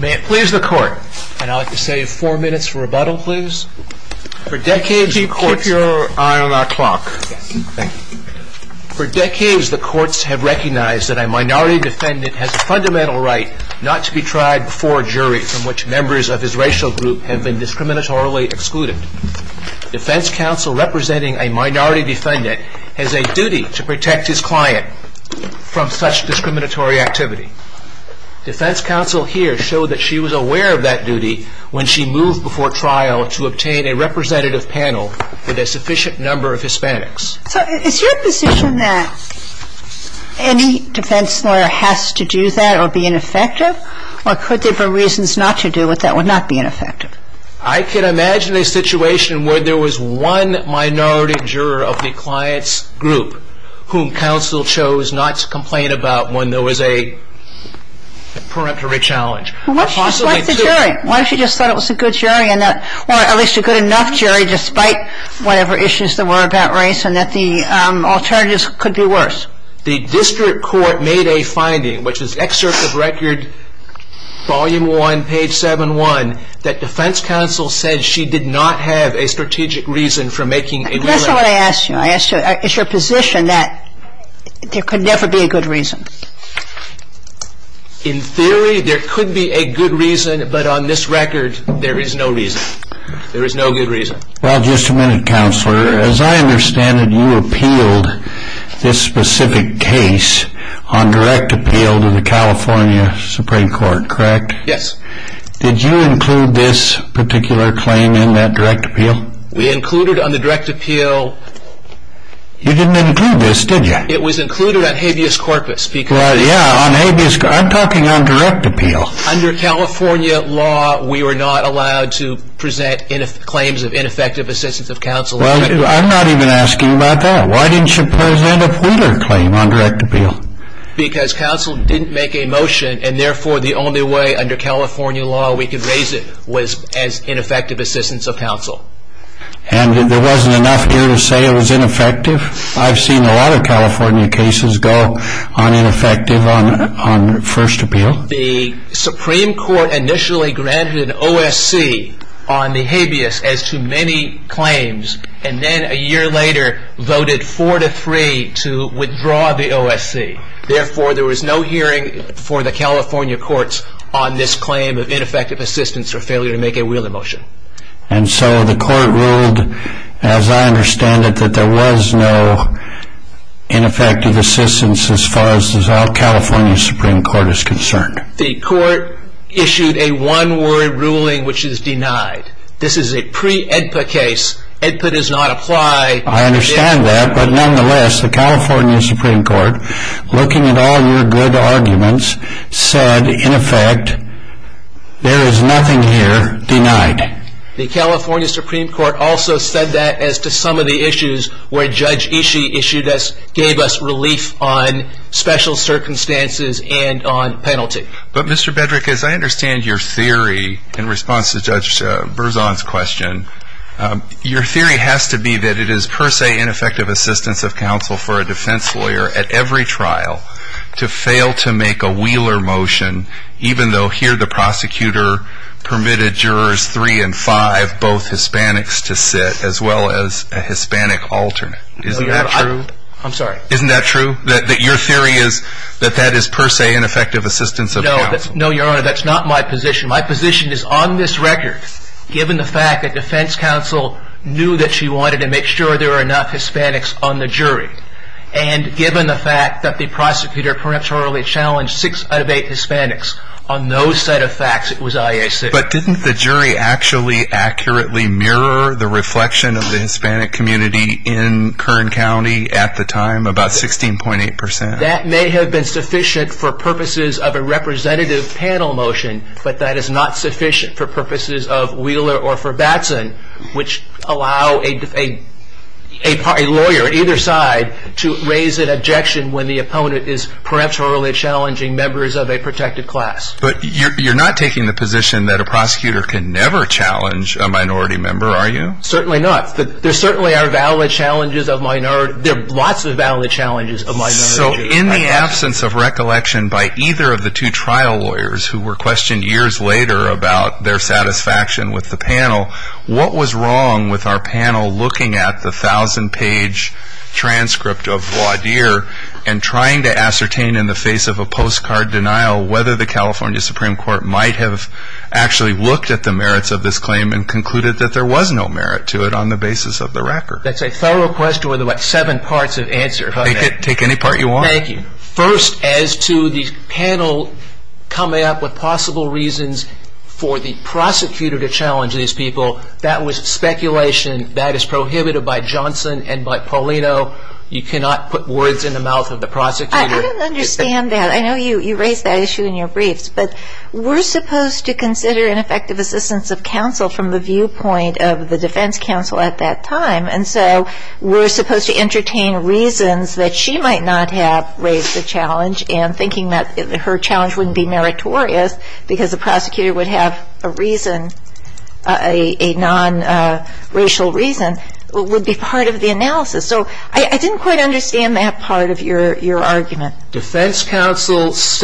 May it please the court, and I'd like to save four minutes for rebuttal please, for decades the courts have recognized that a minority defendant has a fundamental right not to be tried before a jury from which members of his racial group have been discriminatorily excluded. Defense counsel representing a minority defendant has a duty to protect his client from such discriminatory activity. Defense counsel here showed that she was aware of that duty when she moved before trial to obtain a representative panel with a sufficient number of Hispanics. So is your position that any defense lawyer has to do that or be ineffective? Or could there be reasons not to do it that would not be ineffective? I can imagine a situation where there was one minority juror of the client's group whom counsel chose not to complain about when there was a peremptory challenge. What if she just liked the jury? What if she just thought it was a good jury, or at least a good enough jury despite whatever issues there were about race and that the alternatives could be worse? The district court made a finding, which is excerpt of record volume 1, page 7-1, that defense counsel said she did not have a strategic reason for making a ruling. That's not what I asked you. I asked you, is your position that there could never be a good reason? In theory there could be a good reason, but on this record there is no reason. There is no good reason. Well, just a minute, Counselor. As I understand it, you appealed this specific case on direct appeal to the California Supreme Court, correct? Yes. Did you include this particular claim in that direct appeal? We included on the direct appeal... You didn't include this, did you? It was included on habeas corpus. Well, yeah, on habeas corpus. I'm talking on direct appeal. Under California law, we were not allowed to present claims of ineffective assistance of counsel. Well, I'm not even asking about that. Why didn't you present a Wheeler claim on direct appeal? Because counsel didn't make a motion, and therefore the only way under California law we could raise it was as ineffective assistance of counsel. And there wasn't enough here to say it was ineffective? I've seen a lot of California cases go on ineffective on first appeal. Well, the Supreme Court initially granted an OSC on the habeas as to many claims, and then a year later voted 4-3 to withdraw the OSC. Therefore, there was no hearing for the California courts on this claim of ineffective assistance or failure to make a Wheeler motion. And so the court ruled, as I understand it, that there was no ineffective assistance as far as the California Supreme Court is concerned. The court issued a one-word ruling which is denied. This is a pre-AEDPA case. AEDPA does not apply. I understand that, but nonetheless, the California Supreme Court, looking at all your good arguments, said, in effect, there is nothing here denied. The California Supreme Court also said that as to some of the issues where Judge Ishii issued us, gave us relief on special circumstances and on penalty. But, Mr. Bedrick, as I understand your theory in response to Judge Berzon's question, your theory has to be that it is per se ineffective assistance of counsel for a defense lawyer at every trial to fail to make a Wheeler motion, even though here the prosecutor permitted jurors 3 and 5, both Hispanics, to sit, as well as a Hispanic alternate. Is that true? I'm sorry? Isn't that true? That your theory is that that is per se ineffective assistance of counsel? No, Your Honor, that's not my position. My position is, on this record, given the fact that defense counsel knew that she wanted to make sure there were enough Hispanics on the jury, and given the fact that the prosecutor perhaps orally challenged 6 out of 8 Hispanics on those set of facts, it was IAC. But didn't the jury actually accurately mirror the reflection of the Hispanic community in Kern County at the time, about 16.8%? That may have been sufficient for purposes of a representative panel motion, but that is not sufficient for purposes of Wheeler or for Batson, which allow a lawyer on either side to raise an objection when the opponent is perhaps orally challenging members of a protected class. But you're not taking the position that a prosecutor can never challenge a minority member, are you? Certainly not. There certainly are valid challenges of minorities. There are lots of valid challenges of minorities. So in the absence of recollection by either of the two trial lawyers who were questioned years later about their satisfaction with the panel, what was wrong with our panel looking at the 1,000-page transcript of Waudier and trying to ascertain in the face of a postcard denial whether the California Supreme Court might have actually looked at the merits of this claim and concluded that there was no merit to it on the basis of the record? That's a thorough question with about seven parts of answer. Take any part you want. Thank you. First, as to the panel coming up with possible reasons for the prosecutor to challenge these people, that was speculation. That is prohibited by Johnson and by Paulino. You cannot put words in the mouth of the prosecutor. I don't understand that. I know you raised that issue in your briefs. But we're supposed to consider an effective assistance of counsel from the viewpoint of the defense counsel at that time. And so we're supposed to entertain reasons that she might not have raised the challenge, and thinking that her challenge wouldn't be meritorious because the prosecutor would have a reason, a non-racial reason, would be part of the analysis. So I didn't quite understand that part of your argument. Defense counsel was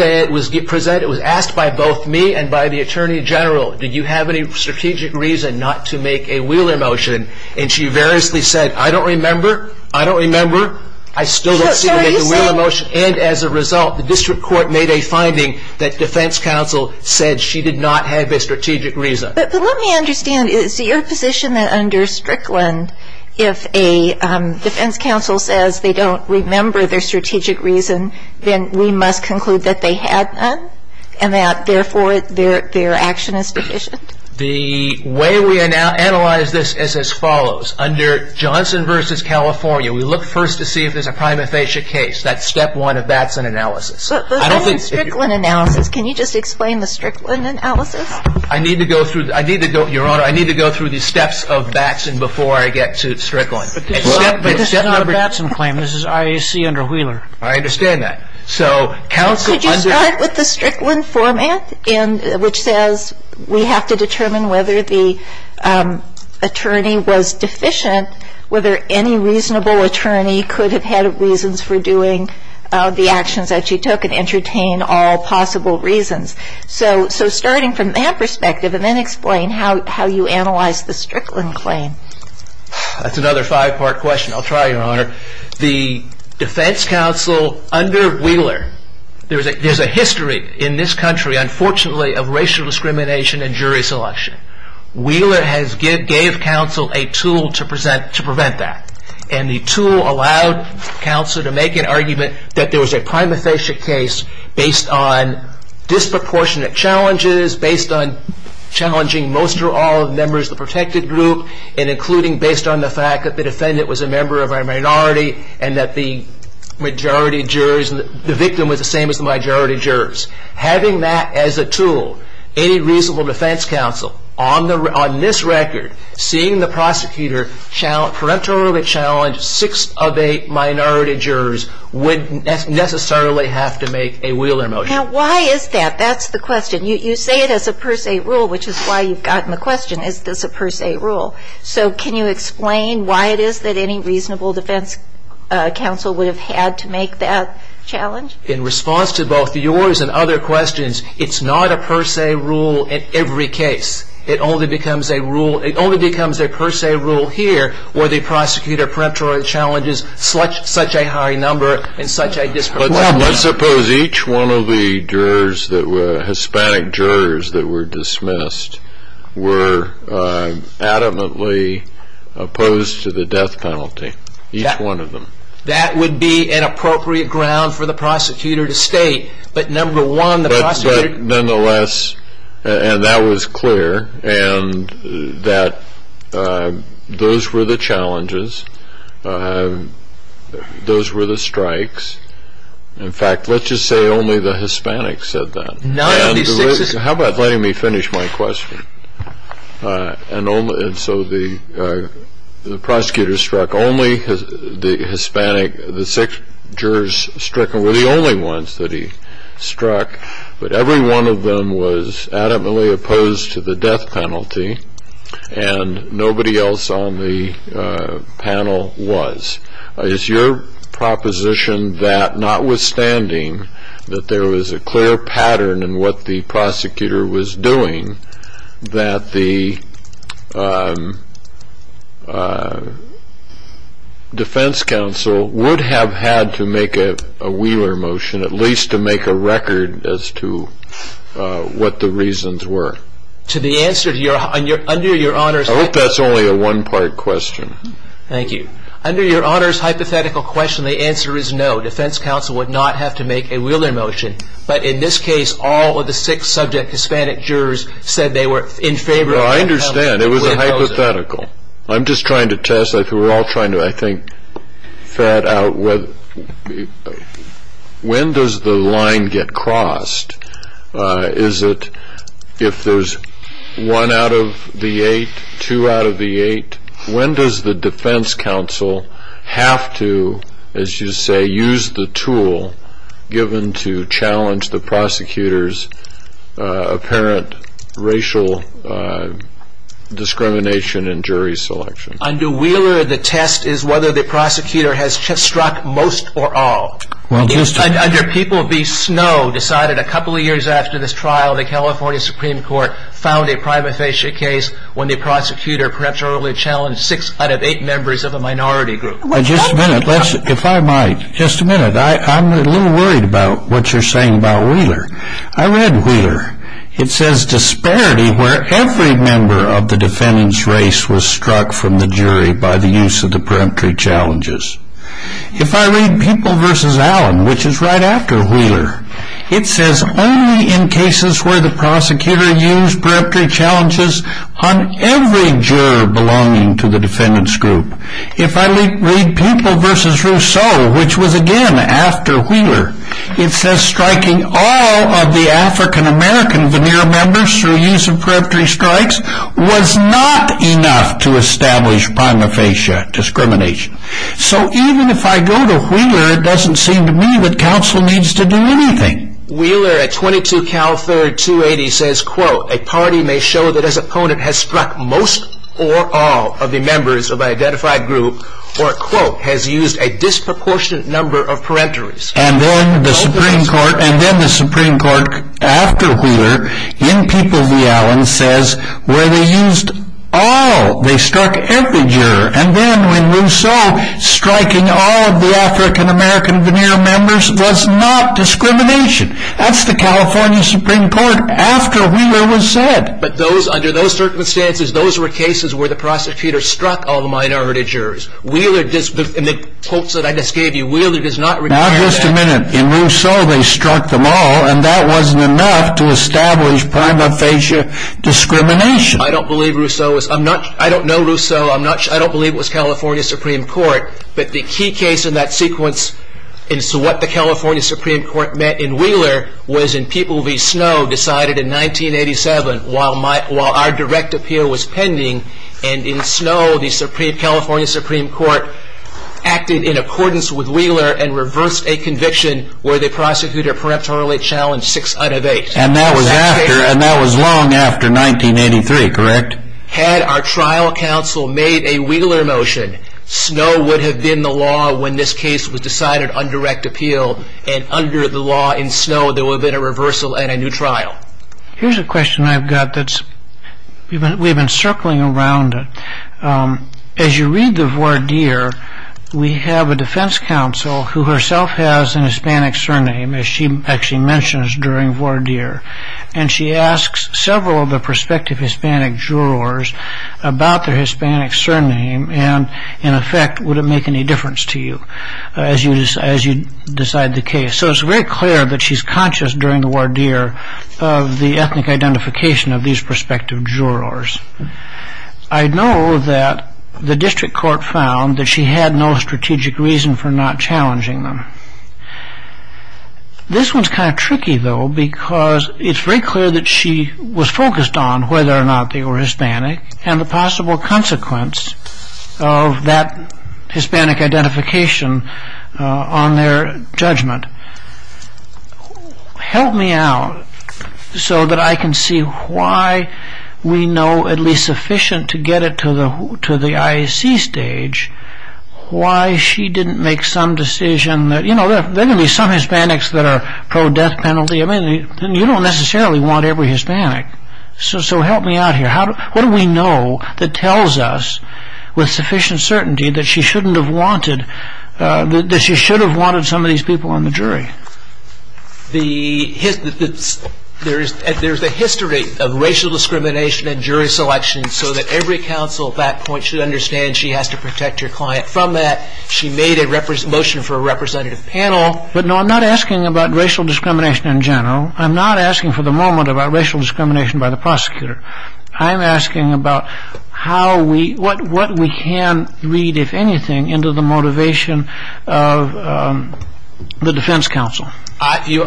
asked by both me and by the attorney general, do you have any strategic reason not to make a Wheeler motion? And she variously said, I don't remember, I don't remember. I still don't see the Wheeler motion. And as a result, the district court made a finding that defense counsel said she did not have a strategic reason. But let me understand, is it your position that under Strickland, if a defense counsel says they don't remember their strategic reason, then we must conclude that they had none, and that therefore their action is deficient? The way we analyze this is as follows. Under Johnson v. California, we look first to see if there's a prima facie case. That's step one of Batson analysis. But the Strickland analysis, can you just explain the Strickland analysis? I need to go through, Your Honor, I need to go through the steps of Batson before I get to Strickland. But this is not a Batson claim. This is IAC under Wheeler. I understand that. So counsel under Can you start with the Strickland format, which says we have to determine whether the attorney was deficient, whether any reasonable attorney could have had reasons for doing the actions that she took, and entertain all possible reasons. So starting from that perspective, and then explain how you analyze the Strickland claim. That's another five-part question. I'll try, Your Honor. The defense counsel under Wheeler, there's a history in this country, unfortunately, of racial discrimination and jury selection. Wheeler gave counsel a tool to prevent that. And the tool allowed counsel to make an argument that there was a prima facie case based on disproportionate challenges, based on challenging most or all of the members of the protected group, and including based on the fact that the defendant was a member of a minority and that the majority jurors and the victim was the same as the majority jurors. Having that as a tool, any reasonable defense counsel on this record, seeing the prosecutor parentally challenge six of eight minority jurors would necessarily have to make a Wheeler motion. Now, why is that? That's the question. You say it as a per se rule, which is why you've gotten the question, is this a per se rule? So can you explain why it is that any reasonable defense counsel would have had to make that challenge? In response to both yours and other questions, it's not a per se rule in every case. It only becomes a per se rule here where the prosecutor challenges such a high number and such a disproportionate number. Let's suppose each one of the jurors that were Hispanic jurors that were dismissed were adamantly opposed to the death penalty, each one of them. That would be an appropriate ground for the prosecutor to state. But, number one, the prosecutor. But, nonetheless, and that was clear, and that those were the challenges, those were the strikes. In fact, let's just say only the Hispanics said that. How about letting me finish my question? And so the prosecutor struck only the Hispanic, the six jurors stricken were the only ones that he struck, but every one of them was adamantly opposed to the death penalty and nobody else on the panel was. Is your proposition that, notwithstanding that there was a clear pattern in what the prosecutor was doing, that the defense counsel would have had to make a Wheeler motion, at least to make a record as to what the reasons were? To the answer to your, under your Honor's. I hope that's only a one-part question. Thank you. Under your Honor's hypothetical question, the answer is no. Defense counsel would not have to make a Wheeler motion, but in this case all of the six subject Hispanic jurors said they were in favor. Well, I understand. It was a hypothetical. I'm just trying to test. We're all trying to, I think, figure out when does the line get crossed? Is it if there's one out of the eight, two out of the eight? When does the defense counsel have to, as you say, use the tool given to challenge the prosecutor's apparent racial discrimination in jury selection? Under Wheeler, the test is whether the prosecutor has struck most or all. Under People v. Snow, decided a couple of years after this trial, the California Supreme Court found a prima facie case when the prosecutor perhaps earlier challenged six out of eight members of a minority group. Just a minute. If I might, just a minute. I'm a little worried about what you're saying about Wheeler. I read Wheeler. It says disparity where every member of the defendant's race was struck from the jury by the use of the preemptory challenges. If I read People v. Allen, which is right after Wheeler, it says only in cases where the prosecutor used preemptory challenges on every juror belonging to the defendant's group. If I read People v. Rousseau, which was again after Wheeler, it says striking all of the African-American veneer members through use of preemptory strikes was not enough to establish prima facie discrimination. So even if I go to Wheeler, it doesn't seem to me that counsel needs to do anything. Wheeler at 22 Calford 280 says, quote, a party may show that its opponent has struck most or all of the members of an identified group, or, quote, has used a disproportionate number of preemptories. And then the Supreme Court after Wheeler in People v. Allen says where they used all, they struck every juror, and then when Rousseau striking all of the African-American veneer members was not discrimination. That's the California Supreme Court after Wheeler was said. But under those circumstances, those were cases where the prosecutor struck all the minority jurors. In the quotes that I just gave you, Wheeler does not require that. Now, just a minute. In Rousseau, they struck them all, and that wasn't enough to establish prima facie discrimination. I don't know Rousseau. I don't believe it was California Supreme Court. But the key case in that sequence as to what the California Supreme Court meant in Wheeler was in People v. Snow decided in 1987 while our direct appeal was pending. And in Snow, the California Supreme Court acted in accordance with Wheeler and reversed a conviction where they prosecuted a preemptorily challenged 6 out of 8. And that was long after 1983, correct? Had our trial counsel made a Wheeler motion, Snow would have been the law when this case was decided on direct appeal. And under the law in Snow, there would have been a reversal and a new trial. Here's a question I've got that we've been circling around. As you read the voir dire, we have a defense counsel who herself has an Hispanic surname, as she actually mentions during voir dire. And she asks several of the prospective Hispanic jurors about their Hispanic surname and, in effect, would it make any difference to you as you decide the case. So it's very clear that she's conscious during the voir dire of the ethnic identification of these prospective jurors. I know that the district court found that she had no strategic reason for not challenging them. This one's kind of tricky, though, because it's very clear that she was focused on whether or not they were Hispanic and the possible consequence of that Hispanic identification on their judgment. Help me out so that I can see why we know at least sufficient to get it to the IAC stage why she didn't make some decision that, you know, there are going to be some Hispanics that are pro-death penalty. I mean, you don't necessarily want every Hispanic. So help me out here. What do we know that tells us with sufficient certainty that she shouldn't have wanted that she should have wanted some of these people on the jury? There's a history of racial discrimination and jury selection so that every counsel at that point should understand she has to protect her client from that. She made a motion for a representative panel. But, no, I'm not asking about racial discrimination in general. I'm not asking for the moment about racial discrimination by the prosecutor. I'm asking about what we can read, if anything, into the motivation of the defense counsel. Your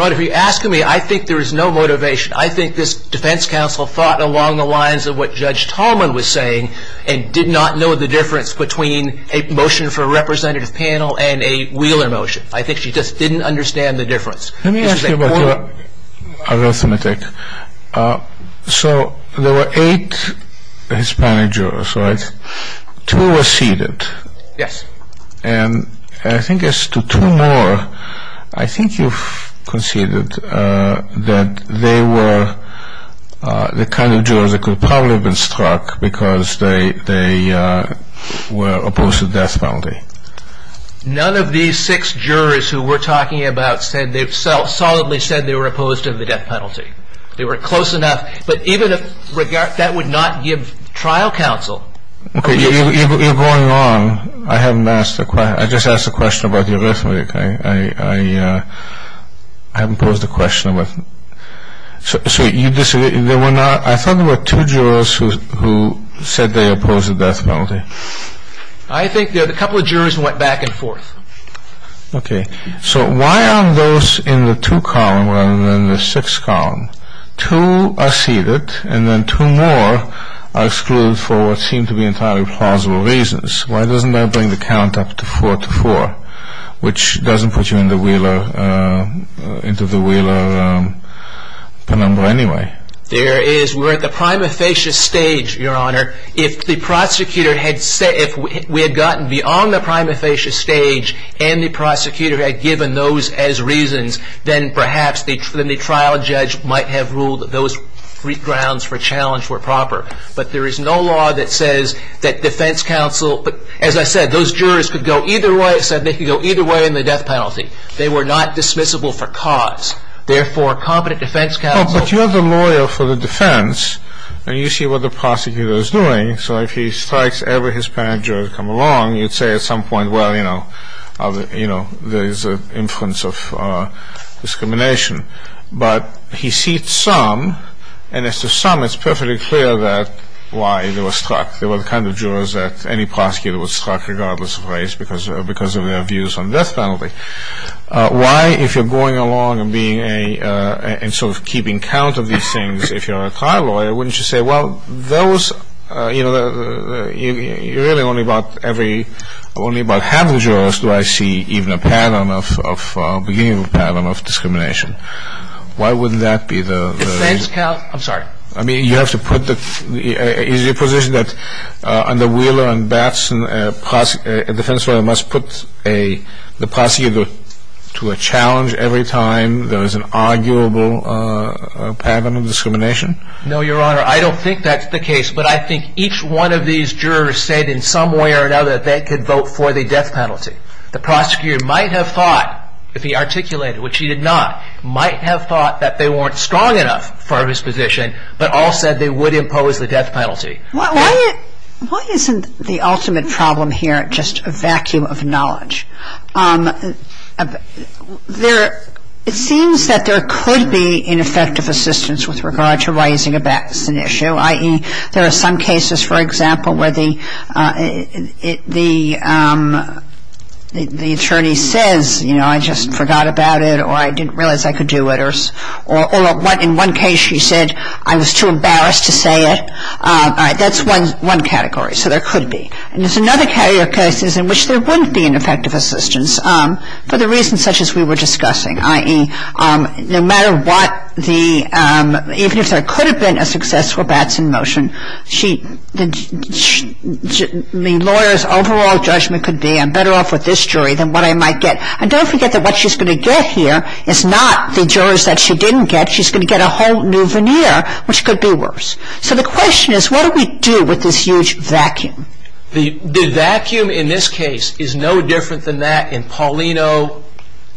Honor, if you're asking me, I think there is no motivation. I think this defense counsel thought along the lines of what Judge Tallman was saying and did not know the difference between a motion for a representative panel and a Wheeler motion. I think she just didn't understand the difference. Let me ask you about your arithmetic. So there were eight Hispanic jurors, right? Two were seated. Yes. And I think as to two more, I think you've conceded that they were the kind of jurors that could probably have been struck because they were opposed to death penalty. None of these six jurors who we're talking about said they've solidly said they were opposed to the death penalty. They were close enough. But even if that would not give trial counsel... Okay, you're going on. I haven't asked the question. I just asked the question about the arithmetic. I haven't posed the question. So you disagree. I thought there were two jurors who said they opposed the death penalty. I think a couple of jurors went back and forth. Okay. So why are those in the two column rather than the six column? Two are seated and then two more are excluded for what seem to be entirely plausible reasons. Why doesn't that bring the count up to four to four, which doesn't put you into the Wheeler penumbra anyway? We're at the prima facie stage, Your Honor. If the prosecutor had said, if we had gotten beyond the prima facie stage and the prosecutor had given those as reasons, then perhaps the trial judge might have ruled those grounds for challenge were proper. But there is no law that says that defense counsel, as I said, those jurors could go either way. It said they could go either way in the death penalty. They were not dismissible for cause. Therefore, competent defense counsel... So if he strikes every Hispanic juror to come along, you'd say at some point, well, you know, there is an influence of discrimination. But he seats some, and as to some, it's perfectly clear why they were struck. They were the kind of jurors that any prosecutor would strike regardless of race because of their views on death penalty. Why, if you're going along and being a... and sort of keeping count of these things, if you're a trial lawyer, wouldn't you say, well, those, you know, you're really only about every... only about half the jurors do I see even a pattern of... a beginning pattern of discrimination. Why wouldn't that be the... Defense counsel... I'm sorry. I mean, you have to put the... is your position that under Wheeler and Batson, a defense lawyer must put a... the prosecutor to a challenge every time there is an arguable pattern of discrimination? No, Your Honor. I don't think that's the case, but I think each one of these jurors said in some way or another that they could vote for the death penalty. The prosecutor might have thought, if he articulated, which he did not, might have thought that they weren't strong enough for his position, but all said they would impose the death penalty. Why isn't the ultimate problem here just a vacuum of knowledge? There... it seems that there could be ineffective assistance with regard to raising a Batson issue, i.e., there are some cases, for example, where the attorney says, you know, I just forgot about it or I didn't realize I could do it or in one case she said I was too embarrassed to say it. All right. That's one category. So there could be. And there's another category of cases in which there wouldn't be an effective assistance. For the reasons such as we were discussing, i.e., no matter what the... even if there could have been a successful Batson motion, the lawyer's overall judgment could be I'm better off with this jury than what I might get. And don't forget that what she's going to get here is not the jurors that she didn't get. She's going to get a whole new veneer, which could be worse. So the question is, what do we do with this huge vacuum? The vacuum in this case is no different than that in Paulino,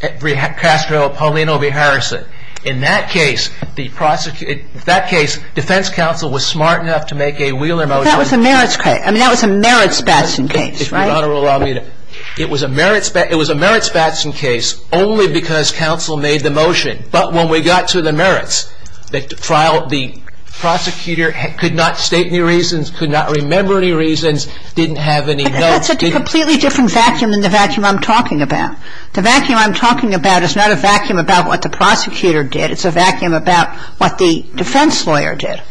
Castro, Paulino v. Harrison. In that case, defense counsel was smart enough to make a Wheeler motion. That was a merits Batson case, right? If Your Honor will allow me to. It was a merits Batson case only because counsel made the motion. But when we got to the merits, the prosecutor could not state any reasons, could not remember any reasons, didn't have any notes. But that's a completely different vacuum than the vacuum I'm talking about. The vacuum I'm talking about is not a vacuum about what the prosecutor did. It's a vacuum about what the defense lawyer did.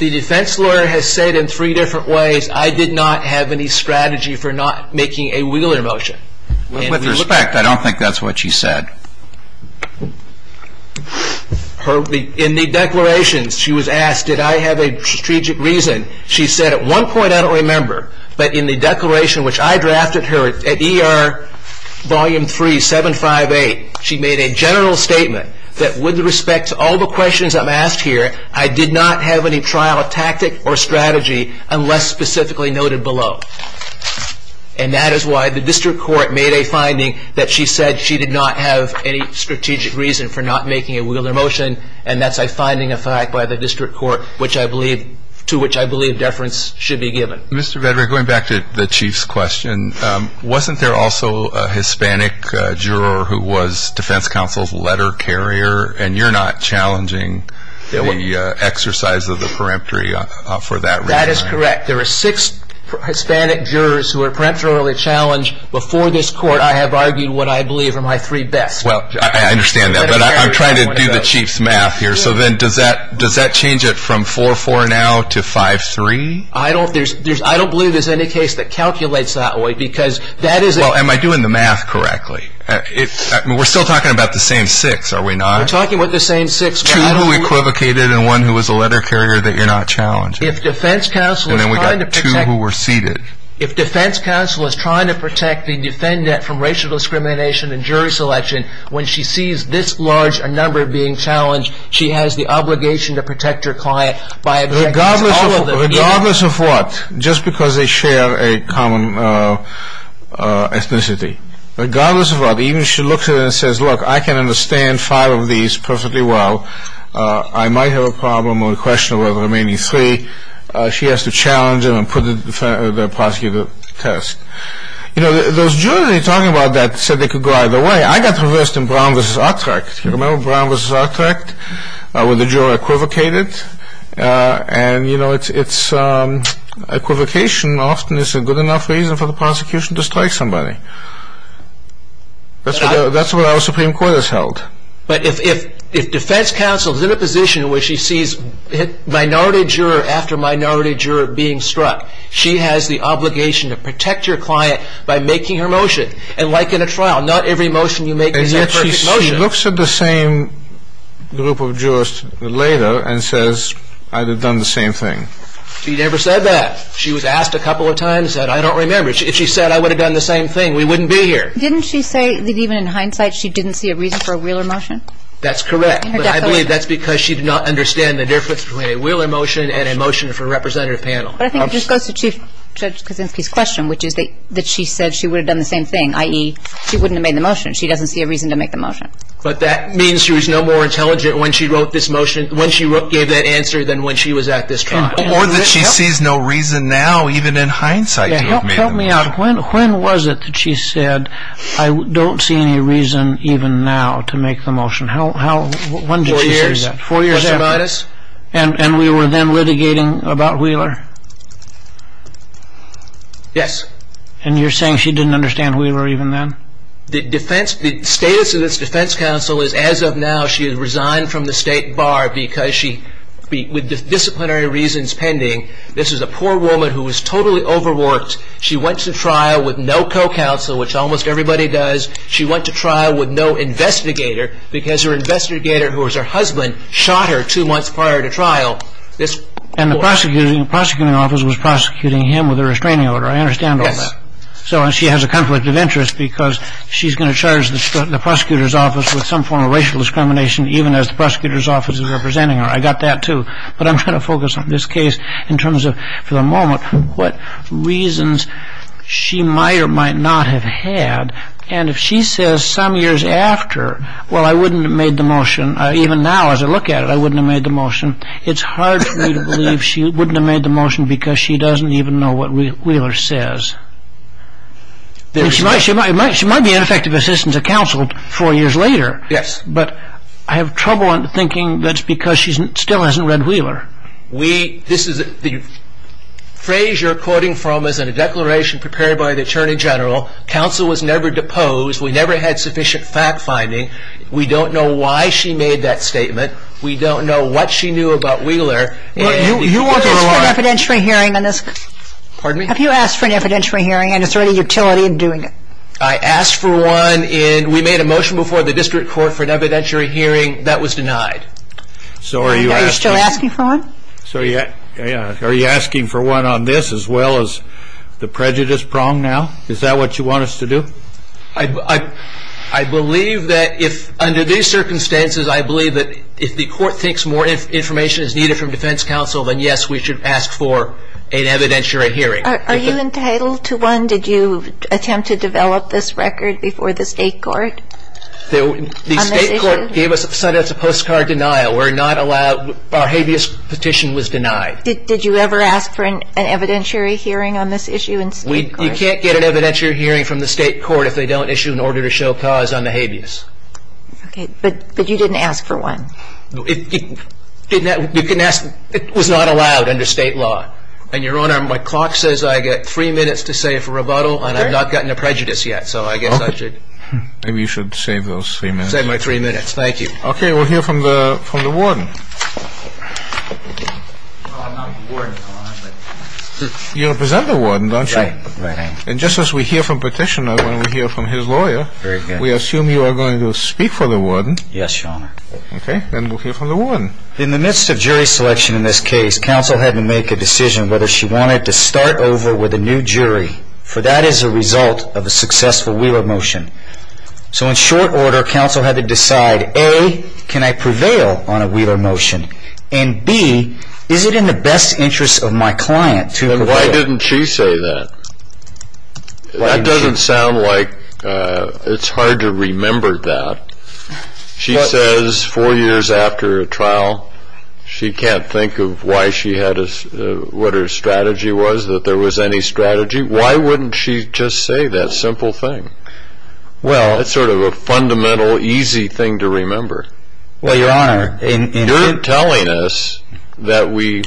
The defense lawyer has said in three different ways, I did not have any strategy for not making a Wheeler motion. With respect, I don't think that's what she said. In the declarations, she was asked, did I have a strategic reason? She said at one point, I don't remember. But in the declaration which I drafted her at ER Volume 3, 758, she made a general statement that with respect to all the questions I'm asked here, I did not have any trial tactic or strategy unless specifically noted below. And that is why the district court made a finding that she said she did not have any strategic reason for not making a Wheeler motion. And that's a finding of fact by the district court, to which I believe deference should be given. Mr. Vedra, going back to the Chief's question, wasn't there also a Hispanic juror who was defense counsel's letter carrier? And you're not challenging the exercise of the peremptory for that reason. That is correct. There are six Hispanic jurors who are peremptorily challenged. Before this court, I have argued what I believe are my three best. Well, I understand that. But I'm trying to do the Chief's math here. So then does that change it from 4-4 now to 5-3? I don't believe there's any case that calculates that way because that is a— Well, am I doing the math correctly? We're still talking about the same six, are we not? We're talking about the same six. Two who equivocated and one who was a letter carrier that you're not challenging. If defense counsel is trying to protect— And then we've got two who were seated. If defense counsel is trying to protect the defendant from racial discrimination and jury selection, when she sees this large a number being challenged, she has the obligation to protect her client by— Regardless of what, just because they share a common ethnicity, regardless of what, even if she looks at it and says, look, I can understand five of these perfectly well. I might have a problem or a question about the remaining three. She has to challenge them and put the prosecutor to the test. You know, those jurors that are talking about that said they could go either way. I got reversed in Brown v. Utrecht. You remember Brown v. Utrecht where the juror equivocated? And, you know, it's—equivocation often is a good enough reason for the prosecution to strike somebody. That's what our Supreme Court has held. But if defense counsel is in a position where she sees minority juror after minority juror being struck, she has the obligation to protect your client by making her motion. And like in a trial, not every motion you make is a perfect motion. And yet she looks at the same group of jurors later and says, I would have done the same thing. She never said that. She was asked a couple of times and said, I don't remember. If she said, I would have done the same thing, we wouldn't be here. Didn't she say that even in hindsight she didn't see a reason for a Wheeler motion? That's correct. But I believe that's because she did not understand the difference between a Wheeler motion and a motion for a representative panel. But I think it just goes to Chief Judge Kaczynski's question, which is that she said she would have done the same thing, i.e., she wouldn't have made the motion. She doesn't see a reason to make the motion. But that means she was no more intelligent when she wrote this motion—when she gave that answer than when she was at this trial. Or that she sees no reason now, even in hindsight, to have made the motion. Help me out. When was it that she said, I don't see any reason even now to make the motion? When did she say that? Four years. Four years after? Question minus. And we were then litigating about Wheeler? Yes. And you're saying she didn't understand Wheeler even then? The status of this defense counsel is, as of now, she has resigned from the state bar because she, with disciplinary reasons pending, this is a poor woman who was totally overworked. She went to trial with no co-counsel, which almost everybody does. She went to trial with no investigator because her investigator, who was her husband, shot her two months prior to trial. And the prosecuting office was prosecuting him with a restraining order. I understand all that. Yes. So she has a conflict of interest because she's going to charge the prosecutor's office with some form of racial discrimination, even as the prosecutor's office is representing her. I got that, too. But I'm going to focus on this case in terms of, for the moment, what reasons she might or might not have had. And if she says some years after, well, I wouldn't have made the motion, even now as I look at it, I wouldn't have made the motion, it's hard for me to believe she wouldn't have made the motion because she doesn't even know what Wheeler says. She might be an effective assistant to counsel four years later. Yes. But I have trouble in thinking that's because she still hasn't read Wheeler. This is the phrase you're quoting from is in a declaration prepared by the attorney general. Counsel was never deposed. We never had sufficient fact-finding. We don't know why she made that statement. We don't know what she knew about Wheeler. Have you asked for an evidentiary hearing? Pardon me? Have you asked for an evidentiary hearing, and is there any utility in doing it? I asked for one, and we made a motion before the district court for an evidentiary hearing. That was denied. Are you still asking for one? Are you asking for one on this as well as the prejudice prong now? Is that what you want us to do? I believe that if, under these circumstances, I believe that if the court thinks more information is needed from defense counsel, then, yes, we should ask for an evidentiary hearing. Are you entitled to one? Did you attempt to develop this record before the state court on this issue? The state court sent us a postcard denial. We're not allowed. Our habeas petition was denied. Did you ever ask for an evidentiary hearing on this issue in state court? You can't get an evidentiary hearing from the state court if they don't issue an order to show cause on the habeas. Okay. But you didn't ask for one? You can ask. It was not allowed under state law. And, Your Honor, my clock says I get three minutes to say if a rebuttal, and I've not gotten a prejudice yet. So I guess I should. Maybe you should save those three minutes. Save my three minutes. Thank you. Okay. We'll hear from the warden. You represent the warden, don't you? And just as we hear from petitioner, when we hear from his lawyer, we assume you are going to speak for the warden. Yes, Your Honor. Okay. Then we'll hear from the warden. In the midst of jury selection in this case, counsel had to make a decision whether she wanted to start over with a new jury, for that is a result of a successful wheeler motion. So in short order, counsel had to decide, A, can I prevail on a wheeler motion? And, B, is it in the best interest of my client to prevail? Why didn't she say that? That doesn't sound like it's hard to remember that. She says four years after a trial, she can't think of why she had a, what her strategy was, that there was any strategy. Why wouldn't she just say that simple thing? Well. That's sort of a fundamental, easy thing to remember. Well, Your Honor. You're telling us that we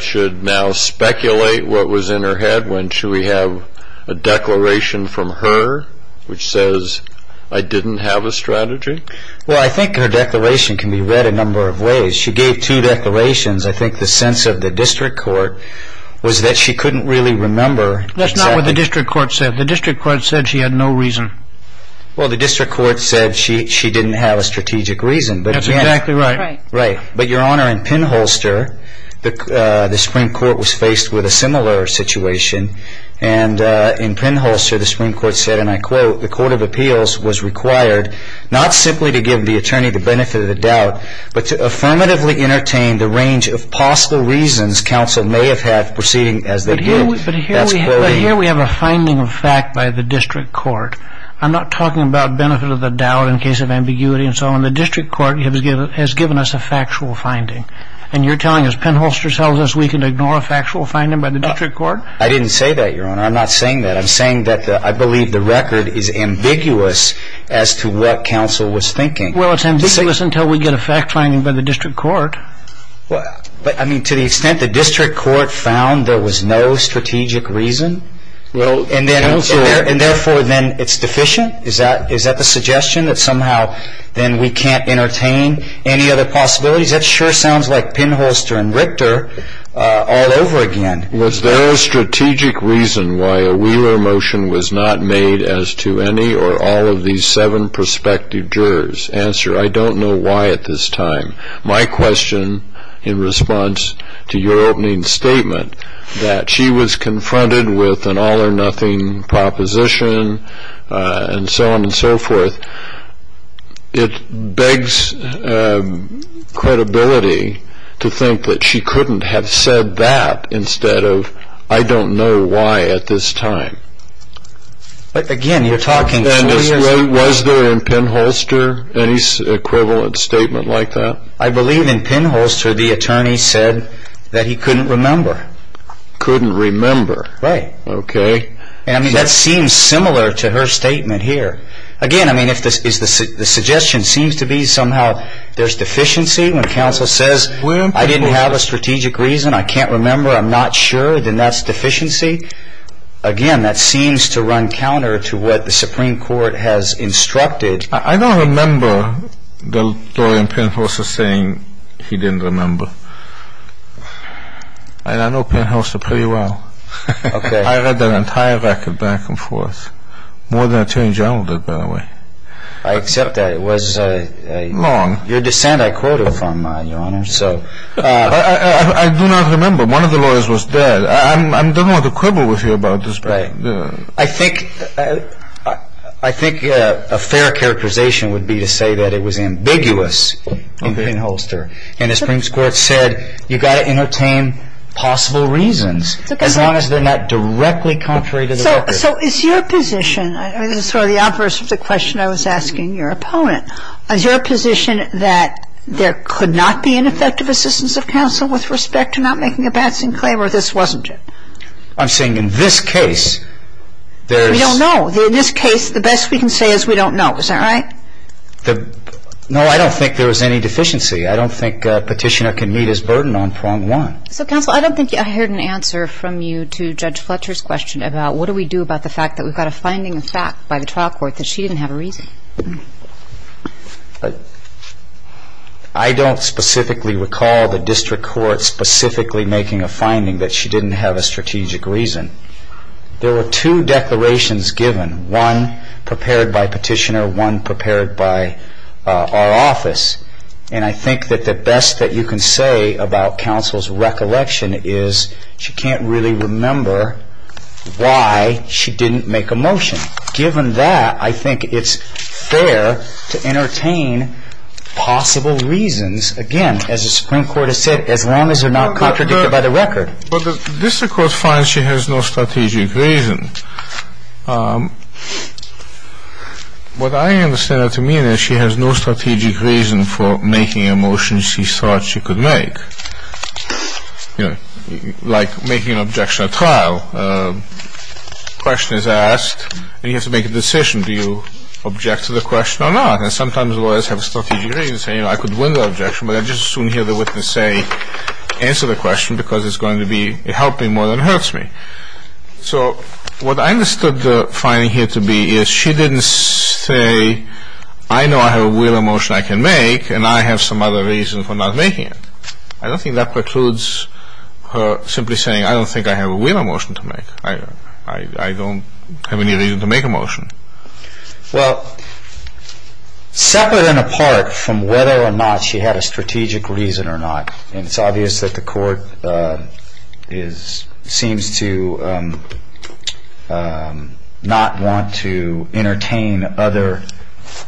should now speculate what was in her head when should we have a declaration from her which says, I didn't have a strategy? Well, I think her declaration can be read a number of ways. She gave two declarations. I think the sense of the district court was that she couldn't really remember. That's not what the district court said. The district court said she had no reason. Well, the district court said she didn't have a strategic reason. That's exactly right. Right. But, Your Honor, in Pinholster, the Supreme Court was faced with a similar situation. And in Pinholster, the Supreme Court said, and I quote, the court of appeals was required not simply to give the attorney the benefit of the doubt, but to affirmatively entertain the range of possible reasons counsel may have had proceeding as they did. But here we have a finding of fact by the district court. I'm not talking about benefit of the doubt in case of ambiguity and so on. The district court has given us a factual finding. And you're telling us Pinholster tells us we can ignore a factual finding by the district court? I didn't say that, Your Honor. I'm not saying that. I'm saying that I believe the record is ambiguous as to what counsel was thinking. Well, it's ambiguous until we get a fact finding by the district court. But, I mean, to the extent the district court found there was no strategic reason, and therefore then it's deficient? Is that the suggestion that somehow then we can't entertain any other possibilities? That sure sounds like Pinholster and Richter all over again. Was there a strategic reason why a Wheeler motion was not made as to any or all of these seven prospective jurors? Answer, I don't know why at this time. My question in response to your opening statement, that she was confronted with an all or nothing proposition and so on and so forth, it begs credibility to think that she couldn't have said that instead of, I don't know why at this time. But, again, you're talking two years ago. Was there in Pinholster any equivalent statement like that? I believe in Pinholster the attorney said that he couldn't remember. Couldn't remember. Right. Okay. And that seems similar to her statement here. Again, I mean, if the suggestion seems to be somehow there's deficiency when counsel says, I didn't have a strategic reason, I can't remember, I'm not sure, then that's deficiency. Again, that seems to run counter to what the Supreme Court has instructed. I don't remember the lawyer in Pinholster saying he didn't remember. I know Pinholster pretty well. I read that entire record back and forth. More than an attorney general did, by the way. I accept that. It was your dissent I quoted from, Your Honor. I do not remember. One of the lawyers was bad. I don't want to quibble with you about this. Right. I think a fair characterization would be to say that it was ambiguous in Pinholster, and the Supreme Court said you've got to entertain possible reasons, as long as they're not directly contrary to the record. So is your position, sort of the opposite of the question I was asking your opponent, is your position that there could not be an effective assistance of counsel with respect to not making a passing claim, or this wasn't it? I'm saying in this case, there's — We don't know. In this case, the best we can say is we don't know. Is that right? No, I don't think there was any deficiency. I don't think Petitioner can meet his burden on prong one. So, counsel, I don't think I heard an answer from you to Judge Fletcher's question about what do we do about the fact that we've got a finding of fact by the trial court that she didn't have a reason. I don't specifically recall the district court specifically making a finding that she didn't have a strategic reason. There were two declarations given, one prepared by Petitioner, one prepared by our office, and I think that the best that you can say about counsel's recollection is she can't really remember why she didn't make a motion. Given that, I think it's fair to entertain possible reasons, again, as the Supreme Court has said, as long as they're not contradicted by the record. Well, the district court finds she has no strategic reason. What I understand that to mean is she has no strategic reason for making a motion she thought she could make. You know, like making an objection at trial. A question is asked, and you have to make a decision. Do you object to the question or not? And sometimes lawyers have a strategic reason, saying, you know, I could win the objection, but I'd just as soon hear the witness say, answer the question, because it's going to be, it helped me more than hurts me. So what I understood the finding here to be is she didn't say, I know I have a wheel of motion I can make, and I have some other reason for not making it. I don't think that precludes her simply saying, I don't think I have a wheel of motion to make. I don't have any reason to make a motion. Well, separate and apart from whether or not she had a strategic reason or not, it's obvious that the court seems to not want to entertain other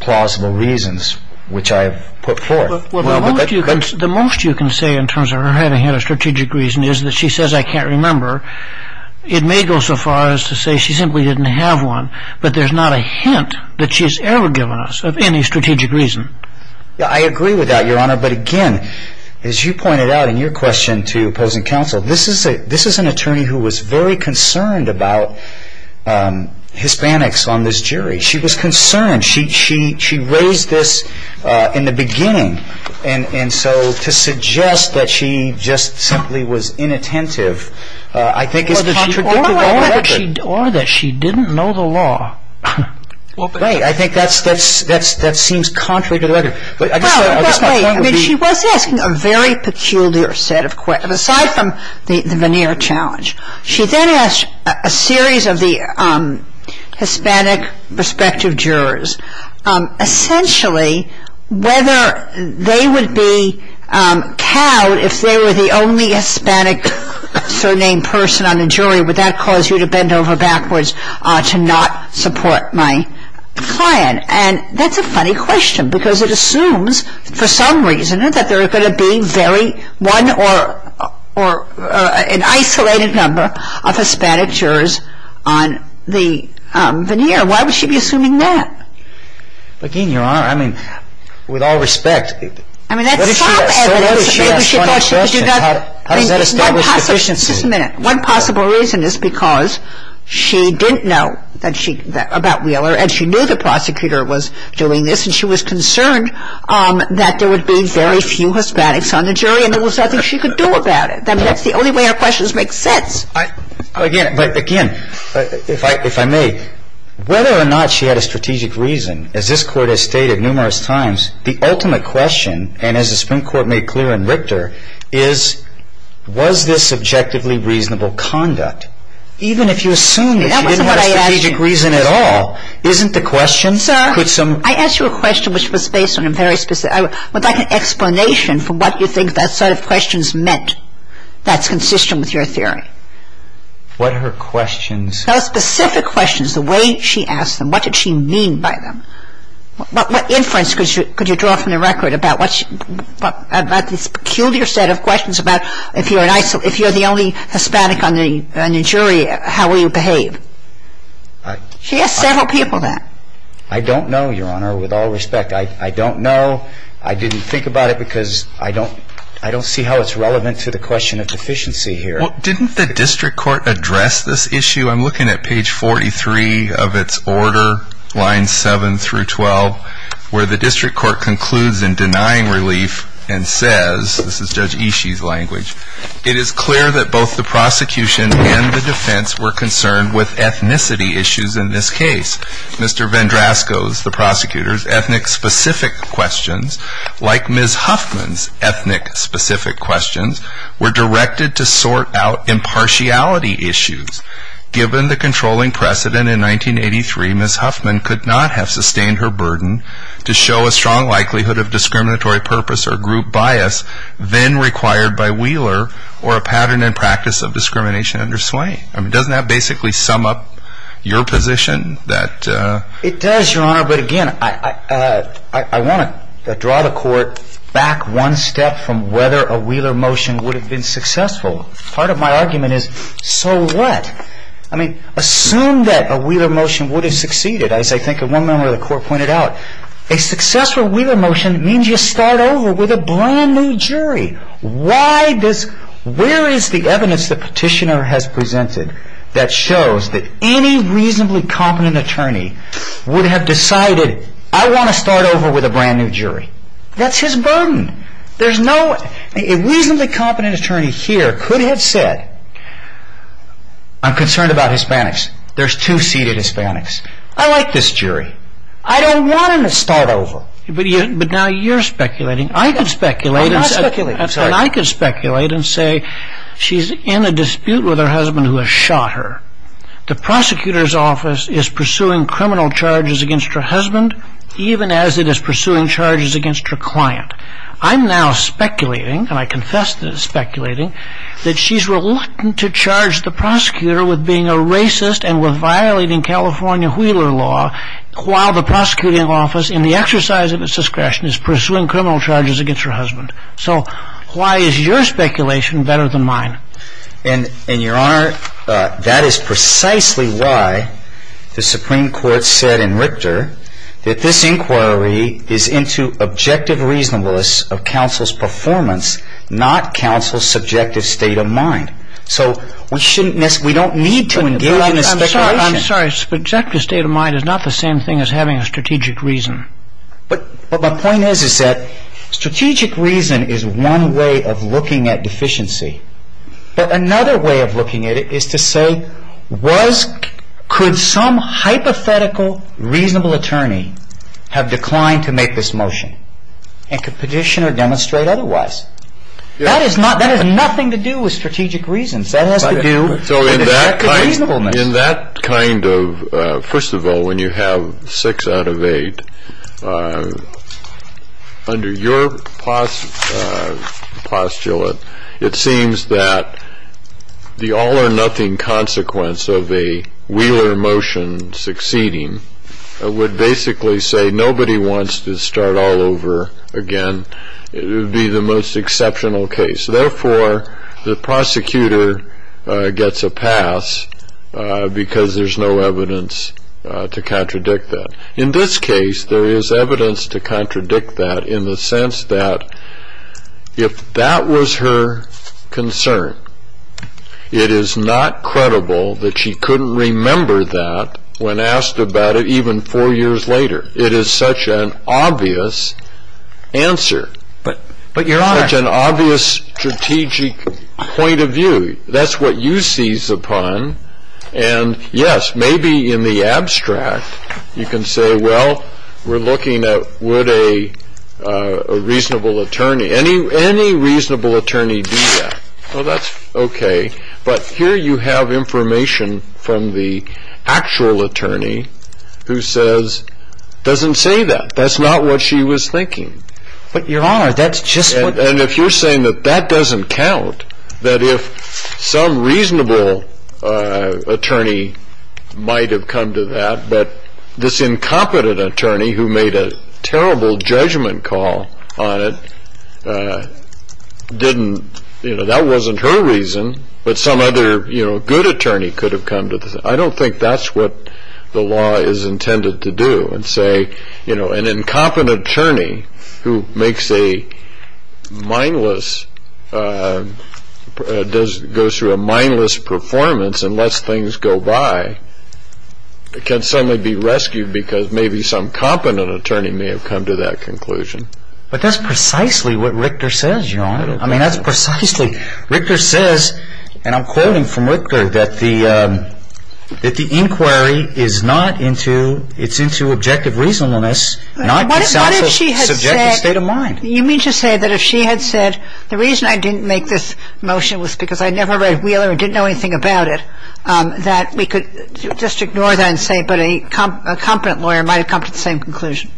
plausible reasons, which I have put forth. Well, the most you can say in terms of her having had a strategic reason is that she says, I can't remember. It may go so far as to say she simply didn't have one, but there's not a hint that she's ever given us of any strategic reason. I agree with that, Your Honor, but again, as you pointed out in your question to opposing counsel, this is an attorney who was very concerned about Hispanics on this jury. She was concerned. She raised this in the beginning, and so to suggest that she just simply was inattentive I think is contradictory. Or that she didn't know the law. Well, great. I think that seems contrary to the record. But I guess my point would be- Well, wait. I mean, she was asking a very peculiar set of questions, aside from the veneer challenge. She then asked a series of the Hispanic prospective jurors, essentially whether they would be cowed if they were the only Hispanic-surnamed person on the jury. Would that cause you to bend over backwards to not support my plan? And that's a funny question because it assumes, for some reason, that there are going to be one or an isolated number of Hispanic jurors on the veneer. Why would she be assuming that? But, again, Your Honor, I mean, with all respect- I mean, that's some evidence that maybe she thought she could do nothing- How does that establish deficiency? Just a minute. One possible reason is because she didn't know about Wheeler and she knew the prosecutor was doing this and she was concerned that there would be very few Hispanics on the jury and there was nothing she could do about it. I mean, that's the only way her questions make sense. But, again, if I may, whether or not she had a strategic reason, as this Court has stated numerous times, the ultimate question, and as the Supreme Court made clear in Richter, is was this subjectively reasonable conduct? Even if you assume that she didn't have a strategic reason at all, isn't the question- Sir, I asked you a question which was based on a very specific- with like an explanation for what you think that set of questions meant that's consistent with your theory. What her questions- Those specific questions, the way she asked them, what did she mean by them? What inference could you draw from the record about this peculiar set of questions about if you're the only Hispanic on the jury, how will you behave? She asked several people that. I don't know, Your Honor, with all respect. I don't know. I didn't think about it because I don't see how it's relevant to the question of deficiency here. Well, didn't the district court address this issue? I'm looking at page 43 of its order, lines 7 through 12, where the district court concludes in denying relief and says- this is Judge Ishii's language- it is clear that both the prosecution and the defense were concerned with ethnicity issues in this case. Mr. Vendrasco's, the prosecutor's, ethnic-specific questions, like Ms. Huffman's ethnic-specific questions, were directed to sort out impartiality issues. Given the controlling precedent in 1983, Ms. Huffman could not have sustained her burden to show a strong likelihood of discriminatory purpose or group bias then required by Wheeler or a pattern and practice of discrimination under Swain. Doesn't that basically sum up your position? It does, Your Honor, but again, I want to draw the court back one step from whether a Wheeler motion would have been successful. Part of my argument is, so what? Assume that a Wheeler motion would have succeeded, as I think one member of the court pointed out. A successful Wheeler motion means you start over with a brand new jury. Where is the evidence the petitioner has presented that shows that any reasonably competent attorney would have decided, I want to start over with a brand new jury? That's his burden. A reasonably competent attorney here could have said, I'm concerned about Hispanics. There's two-seated Hispanics. I like this jury. I don't want them to start over. But now you're speculating. I'm not speculating. I could speculate and say she's in a dispute with her husband who has shot her. The prosecutor's office is pursuing criminal charges against her husband, even as it is pursuing charges against her client. I'm now speculating, and I confess that it's speculating, that she's reluctant to charge the prosecutor with being a racist and with violating California Wheeler law while the prosecuting office, in the exercise of its discretion, is pursuing criminal charges against her husband. So why is your speculation better than mine? And, Your Honor, that is precisely why the Supreme Court said in Richter that this inquiry is into objective reasonableness of counsel's performance, not counsel's subjective state of mind. So we don't need to engage in a speculation. I'm sorry. Subjective state of mind is not the same thing as having a strategic reason. But my point is that strategic reason is one way of looking at deficiency. But another way of looking at it is to say, could some hypothetical reasonable attorney have declined to make this motion and could petition or demonstrate otherwise? That has nothing to do with strategic reasons. That has to do with objective reasonableness. In that kind of, first of all, when you have six out of eight, under your postulate it seems that the all or nothing consequence of a Wheeler motion succeeding would basically say nobody wants to start all over again. It would be the most exceptional case. Therefore, the prosecutor gets a pass because there's no evidence to contradict that. In this case, there is evidence to contradict that in the sense that if that was her concern, it is not credible that she couldn't remember that when asked about it even four years later. It is such an obvious answer. But, Your Honor. It is such an obvious strategic point of view. That's what you seize upon. And, yes, maybe in the abstract you can say, well, we're looking at would a reasonable attorney, any reasonable attorney do that. Well, that's okay. But here you have information from the actual attorney who says, doesn't say that. That's not what she was thinking. But, Your Honor, that's just what. And if you're saying that that doesn't count, that if some reasonable attorney might have come to that, but this incompetent attorney who made a terrible judgment call on it didn't, you know, that wasn't her reason, but some other, you know, good attorney could have come to this. I don't think that's what the law is intended to do and say, you know, an incompetent attorney who makes a mindless, goes through a mindless performance and lets things go by, can suddenly be rescued because maybe some competent attorney may have come to that conclusion. But that's precisely what Richter says, Your Honor. I mean, that's precisely, Richter says, and I'm quoting from Richter, that the inquiry is not into, it's into objective reasonableness. What if she had said, you mean to say that if she had said, the reason I didn't make this motion was because I never read Wheeler and didn't know anything about it, that we could just ignore that and say, but a competent lawyer might have come to the same conclusion.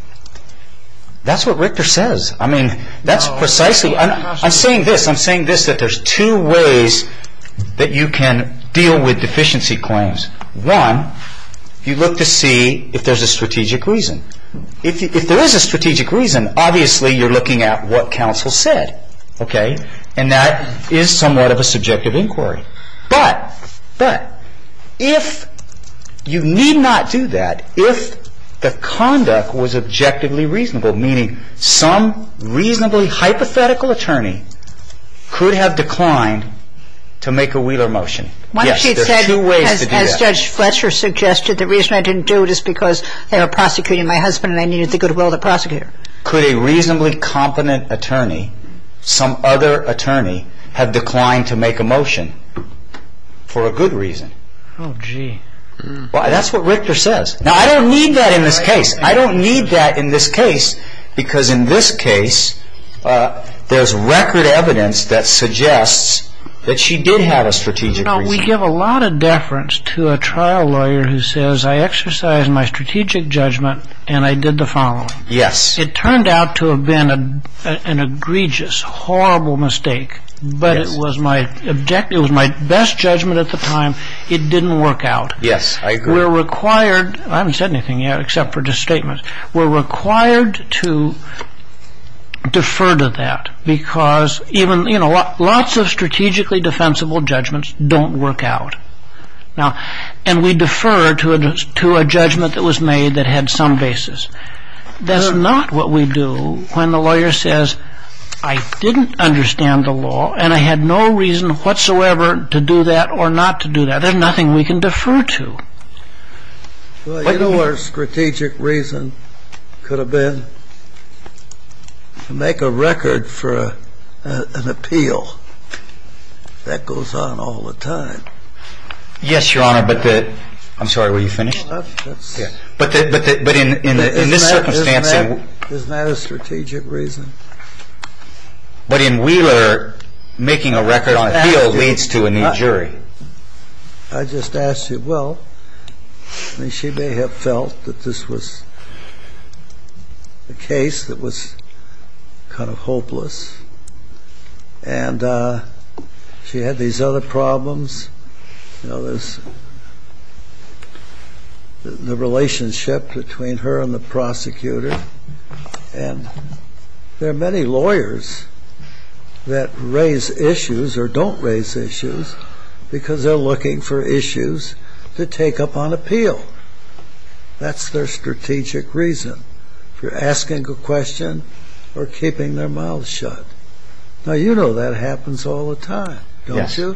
That's what Richter says. I mean, that's precisely, I'm saying this, I'm saying this, that there's two ways that you can deal with deficiency claims. One, you look to see if there's a strategic reason. If there is a strategic reason, obviously you're looking at what counsel said, okay, and that is somewhat of a subjective inquiry. But, but, if you need not do that, if the conduct was objectively reasonable, meaning some reasonably hypothetical attorney could have declined to make a Wheeler motion. Yes, there's two ways to do that. What if she had said, as Judge Fletcher suggested, the reason I didn't do it is because they were prosecuting my husband and I needed the goodwill of the prosecutor? Could a reasonably competent attorney, some other attorney, have declined to make a motion for a good reason? Oh, gee. Well, that's what Richter says. Now, I don't need that in this case. I don't need that in this case because in this case, there's record evidence that suggests that she did have a strategic reason. Now, we give a lot of deference to a trial lawyer who says, I exercised my strategic judgment and I did the following. It turned out to have been an egregious, horrible mistake, but it was my objective, it was my best judgment at the time, it didn't work out. Yes, I agree. We're required, I haven't said anything yet except for just statements, we're required to defer to that because even, you know, lots of strategically defensible judgments don't work out. Now, and we defer to a judgment that was made that had some basis. That's not what we do when the lawyer says, I didn't understand the law and I had no reason whatsoever to do that or not to do that. There's nothing we can defer to. Well, you know our strategic reason could have been to make a record for an appeal. That goes on all the time. Yes, Your Honor, but the, I'm sorry, were you finished? Yeah. But in this circumstance... Isn't that a strategic reason? I just asked you, well, I mean she may have felt that this was a case that was kind of hopeless and she had these other problems, you know, the relationship between her and the prosecutor and there are many lawyers that raise issues or don't raise issues because they're looking for issues to take up on appeal. That's their strategic reason for asking a question or keeping their mouths shut. Now, you know that happens all the time, don't you?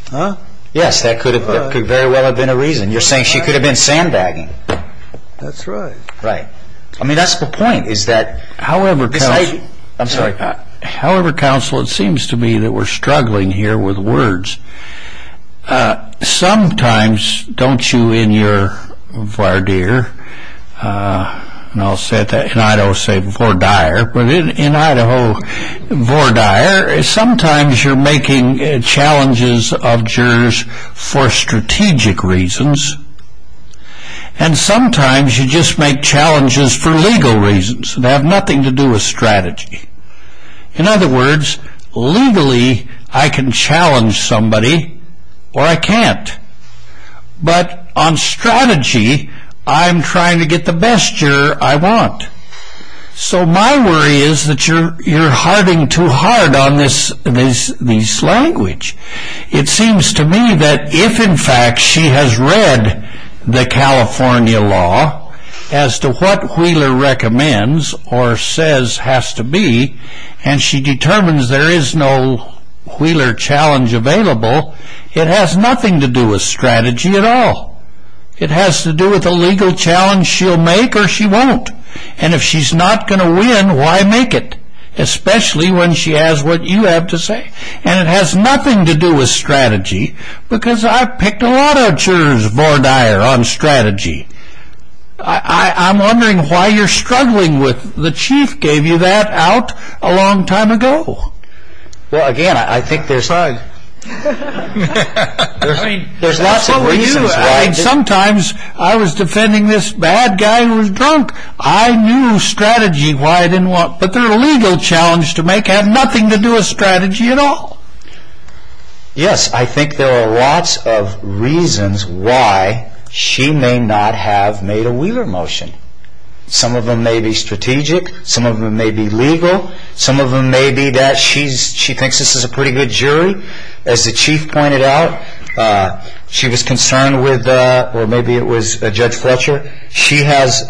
Yes. Huh? Yes, that could very well have been a reason. You're saying she could have been sandbagging. That's right. Right. I mean, that's the point is that however counsel... I'm sorry. However, counsel, it seems to me that we're struggling here with words. Sometimes, don't you in your voir dire, and I'll say that in Idaho, say vor dire, but in Idaho, vor dire, sometimes you're making challenges of jurors for strategic reasons and sometimes you just make challenges for legal reasons that have nothing to do with strategy. In other words, legally, I can challenge somebody or I can't, but on strategy, I'm trying to get the best juror I want. So my worry is that you're harding too hard on this language. It seems to me that if, in fact, she has read the California law as to what Wheeler recommends or says has to be and she determines there is no Wheeler challenge available, it has nothing to do with strategy at all. It has to do with a legal challenge she'll make or she won't. And if she's not going to win, why make it, especially when she has what you have to say? And it has nothing to do with strategy because I've picked a lot of jurors vor dire on strategy. I'm wondering why you're struggling with the chief gave you that out a long time ago. Well, again, I think there's lots of reasons. Sometimes I was defending this bad guy who was drunk. I knew strategy why I didn't want, but their legal challenge to make had nothing to do with strategy at all. Yes, I think there are lots of reasons why she may not have made a Wheeler motion. Some of them may be strategic. Some of them may be legal. Some of them may be that she thinks this is a pretty good jury. As the chief pointed out, she was concerned with, or maybe it was Judge Fletcher, she has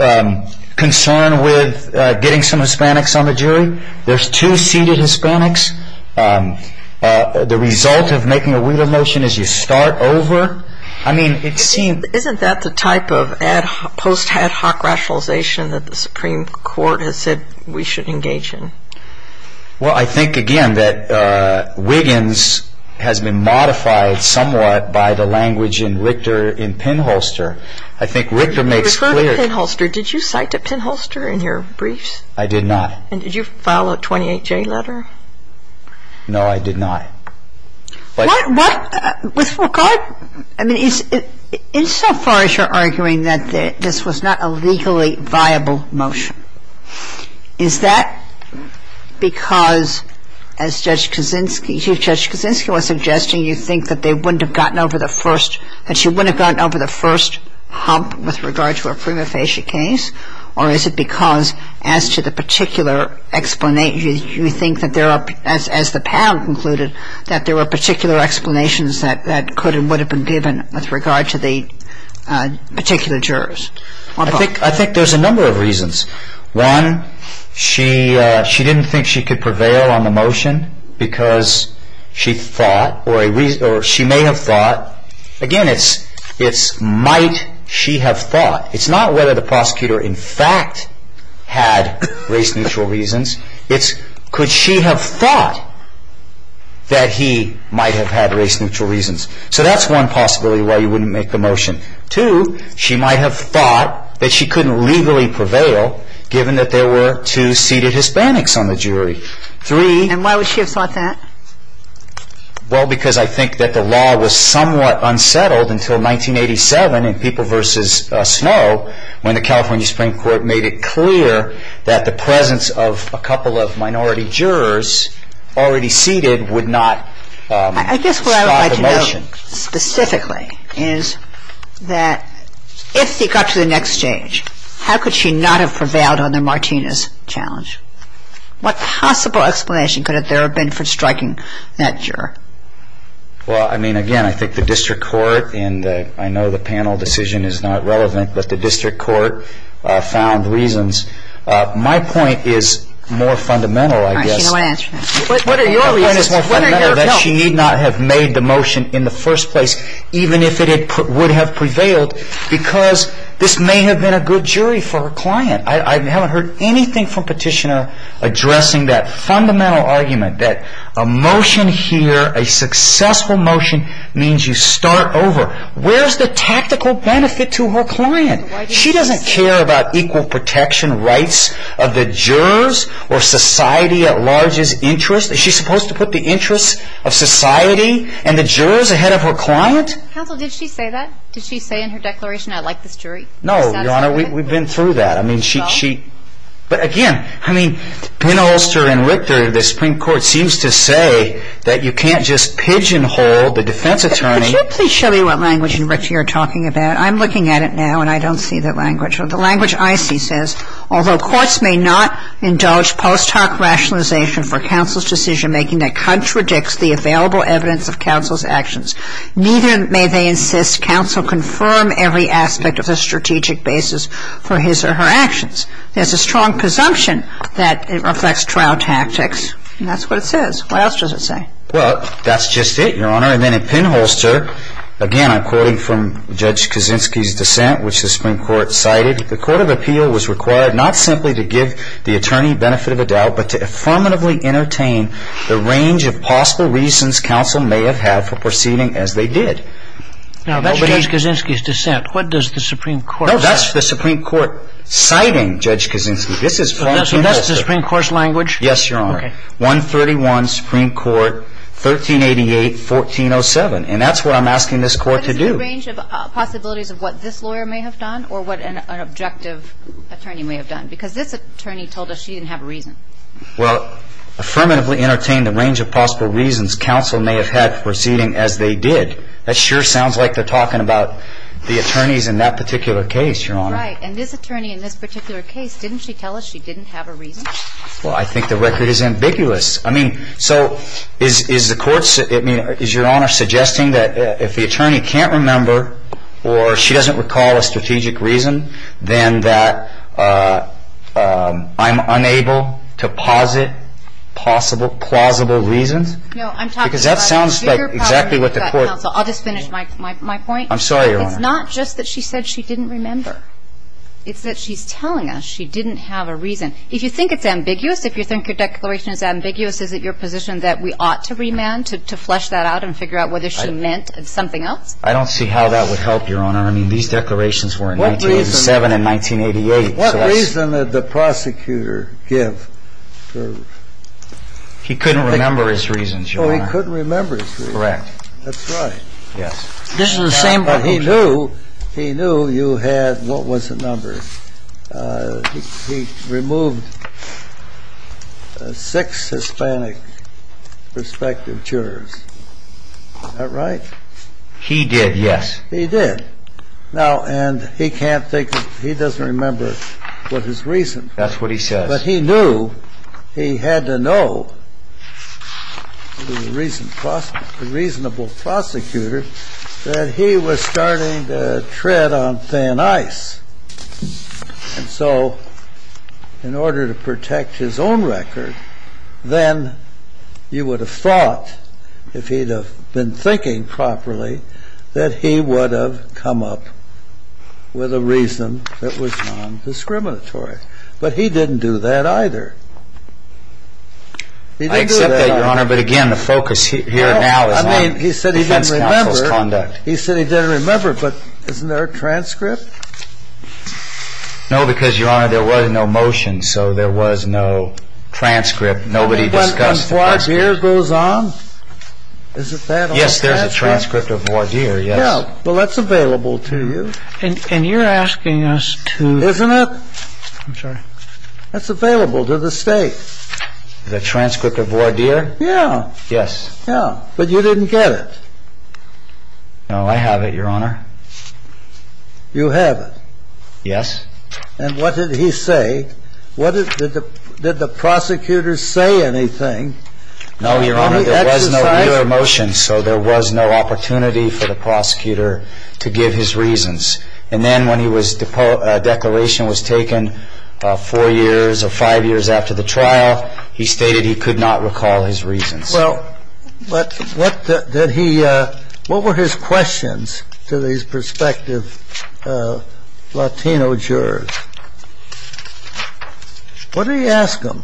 concern with getting some Hispanics on the jury. There's two seated Hispanics. The result of making a Wheeler motion is you start over. Isn't that the type of post-ad hoc rationalization that the Supreme Court has said we should engage in? Well, I think, again, that Wiggins has been modified somewhat by the language in Richter in Pinholster. I think Richter makes clear. You referred to Pinholster. Did you cite to Pinholster in your briefs? I did not. And did you file a 28J letter? No, I did not. What? With regard? I mean, insofar as you're arguing that this was not a legally viable motion, is that because, as Judge Kaczynski, Chief Judge Kaczynski was suggesting, you think that they wouldn't have gotten over the first, that she wouldn't have gotten over the first hump with regard to a prima facie case? Or is it because, as to the particular explanation, you think that there are, as the panel concluded, that there were particular explanations that could and would have been given with regard to the particular jurors? I think there's a number of reasons. One, she didn't think she could prevail on the motion because she thought, or she may have thought, again, it's might she have thought. It's not whether the prosecutor in fact had race-neutral reasons. It's could she have thought that he might have had race-neutral reasons. So that's one possibility why you wouldn't make the motion. Two, she might have thought that she couldn't legally prevail given that there were two seated Hispanics on the jury. And why would she have thought that? Well, because I think that the law was somewhat unsettled until 1987 when in People v. Snow, when the California Supreme Court made it clear that the presence of a couple of minority jurors already seated would not stop the motion. I guess what I would like to know specifically is that if she got to the next stage, how could she not have prevailed on the Martinez challenge? What possible explanation could there have been for striking that juror? Well, I mean, again, I think the district court, and I know the panel decision is not relevant, but the district court found reasons. My point is more fundamental, I guess. All right. She don't want to answer that. What are your reasons? My point is more fundamental that she need not have made the motion in the first place even if it would have prevailed because this may have been a good jury for her client. I haven't heard anything from Petitioner addressing that fundamental argument that a motion here, a successful motion, means you start over. Where's the tactical benefit to her client? She doesn't care about equal protection rights of the jurors or society at large's interest. Is she supposed to put the interests of society and the jurors ahead of her client? Counsel, did she say that? Did she say in her declaration, I like this jury? No, Your Honor, we've been through that. But, again, I mean, Penholster and Richter, the Supreme Court, seems to say that you can't just pigeonhole the defense attorney. Could you please show me what language in Richter you're talking about? I'm looking at it now, and I don't see the language. The language I see says, although courts may not indulge post hoc rationalization for counsel's decision-making that contradicts the available evidence of counsel's actions, neither may they insist counsel confirm every aspect of the strategic basis for his or her actions. There's a strong presumption that it reflects trial tactics. And that's what it says. What else does it say? Well, that's just it, Your Honor. And then in Penholster, again, I'm quoting from Judge Kaczynski's dissent, which the Supreme Court cited, the court of appeal was required not simply to give the attorney benefit of a doubt, but to affirmatively entertain the range of possible reasons counsel may have had for proceeding as they did. Now, that's Judge Kaczynski's dissent. What does the Supreme Court say? No, that's the Supreme Court citing Judge Kaczynski. This is Penholster. So that's the Supreme Court's language? Yes, Your Honor. Okay. 131, Supreme Court, 1388, 1407. And that's what I'm asking this Court to do. But is it a range of possibilities of what this lawyer may have done or what an objective attorney may have done? Because this attorney told us she didn't have a reason. Well, affirmatively entertain the range of possible reasons counsel may have had for proceeding as they did. That sure sounds like they're talking about the attorneys in that particular case, Your Honor. Right. And this attorney in this particular case, didn't she tell us she didn't have a reason? Well, I think the record is ambiguous. I mean, so is Your Honor suggesting that if the attorney can't remember or she doesn't recall a strategic reason, then that I'm unable to posit plausible reasons? No. Because that sounds like exactly what the Court. Counsel, I'll just finish my point. I'm sorry, Your Honor. It's not just that she said she didn't remember. It's that she's telling us she didn't have a reason. If you think it's ambiguous, if you think your declaration is ambiguous, is it your position that we ought to remand to flesh that out and figure out whether she meant something else? I don't see how that would help, Your Honor. I mean, these declarations were in 1987 and 1988. What reason did the prosecutor give? He couldn't remember his reasons, Your Honor. Oh, he couldn't remember his reasons. Correct. That's right. Yes. But he knew you had, what was the number? He removed six Hispanic prospective jurors. Is that right? He did, yes. He did. Now, and he can't think of he doesn't remember what his reason was. That's what he says. But he knew he had to know, the reasonable prosecutor, that he was starting to tread on thin ice. And so in order to protect his own record, then you would have thought, if he'd have been thinking properly, that he would have come up with a reason that was non-discriminatory. But he didn't do that either. I accept that, Your Honor. But again, the focus here now is on defense counsel's conduct. He said he didn't remember, but isn't there a transcript? No, because, Your Honor, there was no motion, so there was no transcript. Nobody discussed the transcript. When voir dire goes on, is it that on the transcript? Yes, there's a transcript of voir dire, yes. Yeah, well, that's available to you. And you're asking us to... Isn't it? I'm sorry. That's available to the State. The transcript of voir dire? Yeah. Yes. Yeah, but you didn't get it. No, I have it, Your Honor. You have it? Yes. And what did he say? Did the prosecutor say anything? No, Your Honor, there was no motion, so there was no opportunity for the prosecutor to give his reasons. And then when the declaration was taken four years or five years after the trial, he stated he could not recall his reasons. Well, what did he – what were his questions to these prospective Latino jurors? What did he ask them?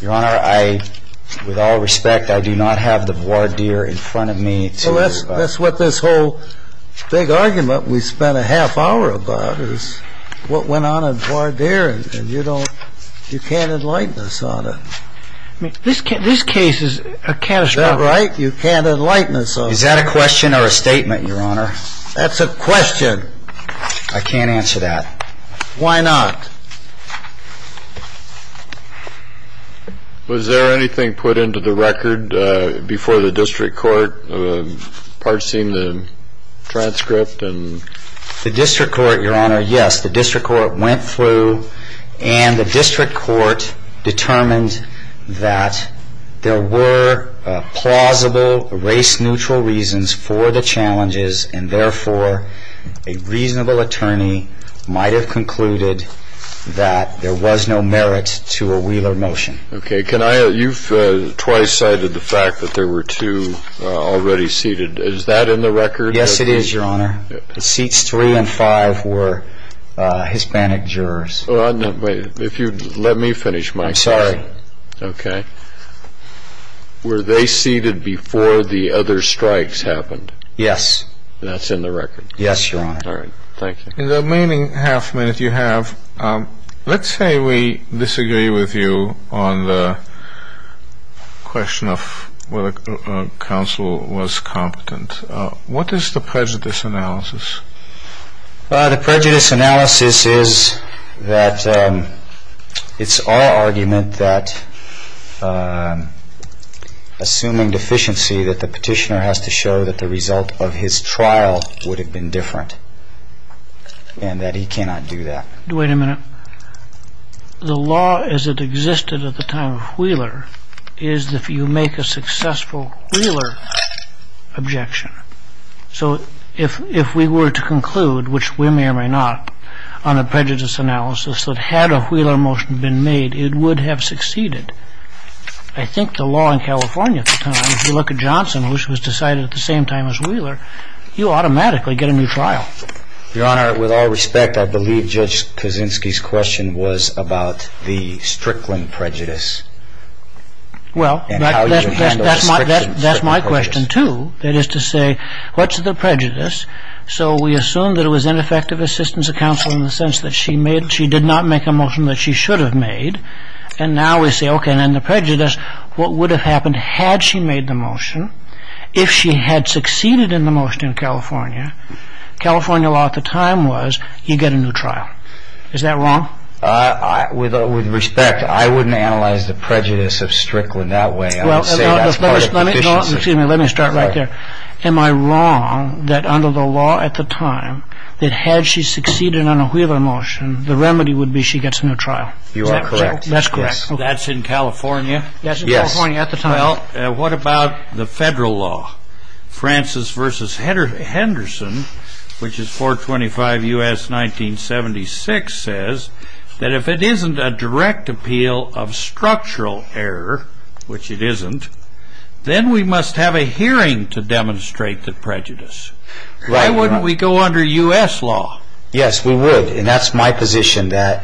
Your Honor, I, with all respect, I do not have the voir dire in front of me to... Well, that's what this whole big argument we spent a half hour about is what went on in voir dire, and you don't – you can't enlighten us on it. I mean, this case is a catastrophe. That's right. You can't enlighten us on it. Is that a question or a statement, Your Honor? That's a question. I can't answer that. Why not? Was there anything put into the record before the district court, parsing the transcript? The district court, Your Honor, yes. The district court went through, and the district court determined that there were plausible race-neutral reasons for the challenges, and therefore a reasonable attorney might have concluded that there was no merit to a Wheeler motion. Okay. Can I – you've twice cited the fact that there were two already seated. Is that in the record? Yes, it is, Your Honor. Seats three and five were Hispanic jurors. If you'd let me finish, Mike. I'm sorry. Okay. Were they seated before the other strikes happened? Yes. That's in the record? Yes, Your Honor. All right. Thank you. In the remaining half minute you have, let's say we disagree with you on the question of whether counsel was competent. What is the prejudice analysis? The prejudice analysis is that it's our argument that, assuming deficiency, that the petitioner has to show that the result of his trial would have been different, and that he cannot do that. Wait a minute. The law as it existed at the time of Wheeler is that you make a successful Wheeler objection. So if we were to conclude, which we may or may not, on a prejudice analysis that had a Wheeler motion been made, it would have succeeded. I think the law in California at the time, if you look at Johnson, who was decided at the same time as Wheeler, you automatically get a new trial. Your Honor, with all respect, I believe Judge Kaczynski's question was about the Strickland prejudice. Well, that's my question, too. That is to say, what's the prejudice? So we assume that it was ineffective assistance of counsel in the sense that she did not make a motion that she should have made. And now we say, okay, and then the prejudice, what would have happened had she made the motion, if she had succeeded in the motion in California, California law at the time was you get a new trial. Is that wrong? With respect, I wouldn't analyze the prejudice of Strickland that way. I would say that's part of the condition. Excuse me, let me start right there. Am I wrong that under the law at the time, that had she succeeded on a Wheeler motion, the remedy would be she gets a new trial? You are correct. That's correct. That's in California? Yes. That's in California at the time. Well, what about the federal law? Francis v. Henderson, which is 425 U.S. 1976, says that if it isn't a direct appeal of structural error, which it isn't, then we must have a hearing to demonstrate the prejudice. Why wouldn't we go under U.S. law? Yes, we would. And that's my position. But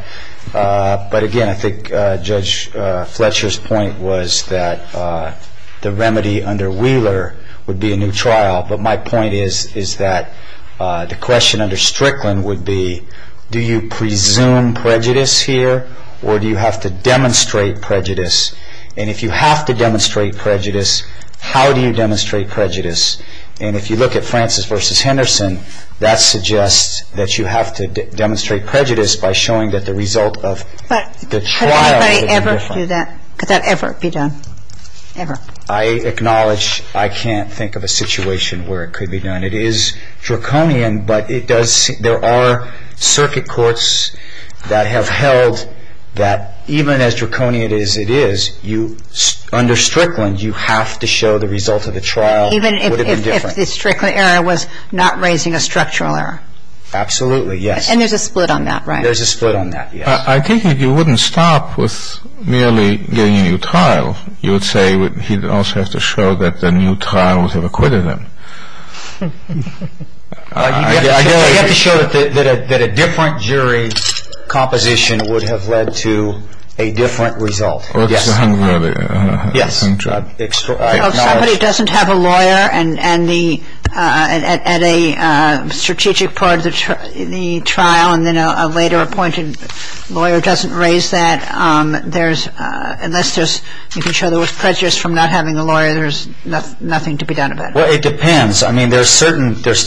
again, I think Judge Fletcher's point was that the remedy under Wheeler would be a new trial. But my point is that the question under Strickland would be, do you presume prejudice here or do you have to demonstrate prejudice? And if you have to demonstrate prejudice, how do you demonstrate prejudice? And if you look at Francis v. Henderson, that suggests that you have to demonstrate prejudice by showing that the result of the trial would be different. But could anybody ever do that? Could that ever be done? Ever. I acknowledge I can't think of a situation where it could be done. It is draconian, but it does – there are circuit courts that have held that even as draconian as it is, under Strickland, you have to show the result of the trial. Even if the Strickland error was not raising a structural error? Absolutely, yes. And there's a split on that, right? There's a split on that, yes. I think you wouldn't stop with merely getting a new trial. You would say he'd also have to show that the new trial would have acquitted him. You'd have to show that a different jury composition would have led to a different result. Yes. If somebody doesn't have a lawyer at a strategic part of the trial, and then a later appointed lawyer doesn't raise that, unless you can show there was prejudice from not having a lawyer, there's nothing to be done about it. Well, it depends. I mean, there's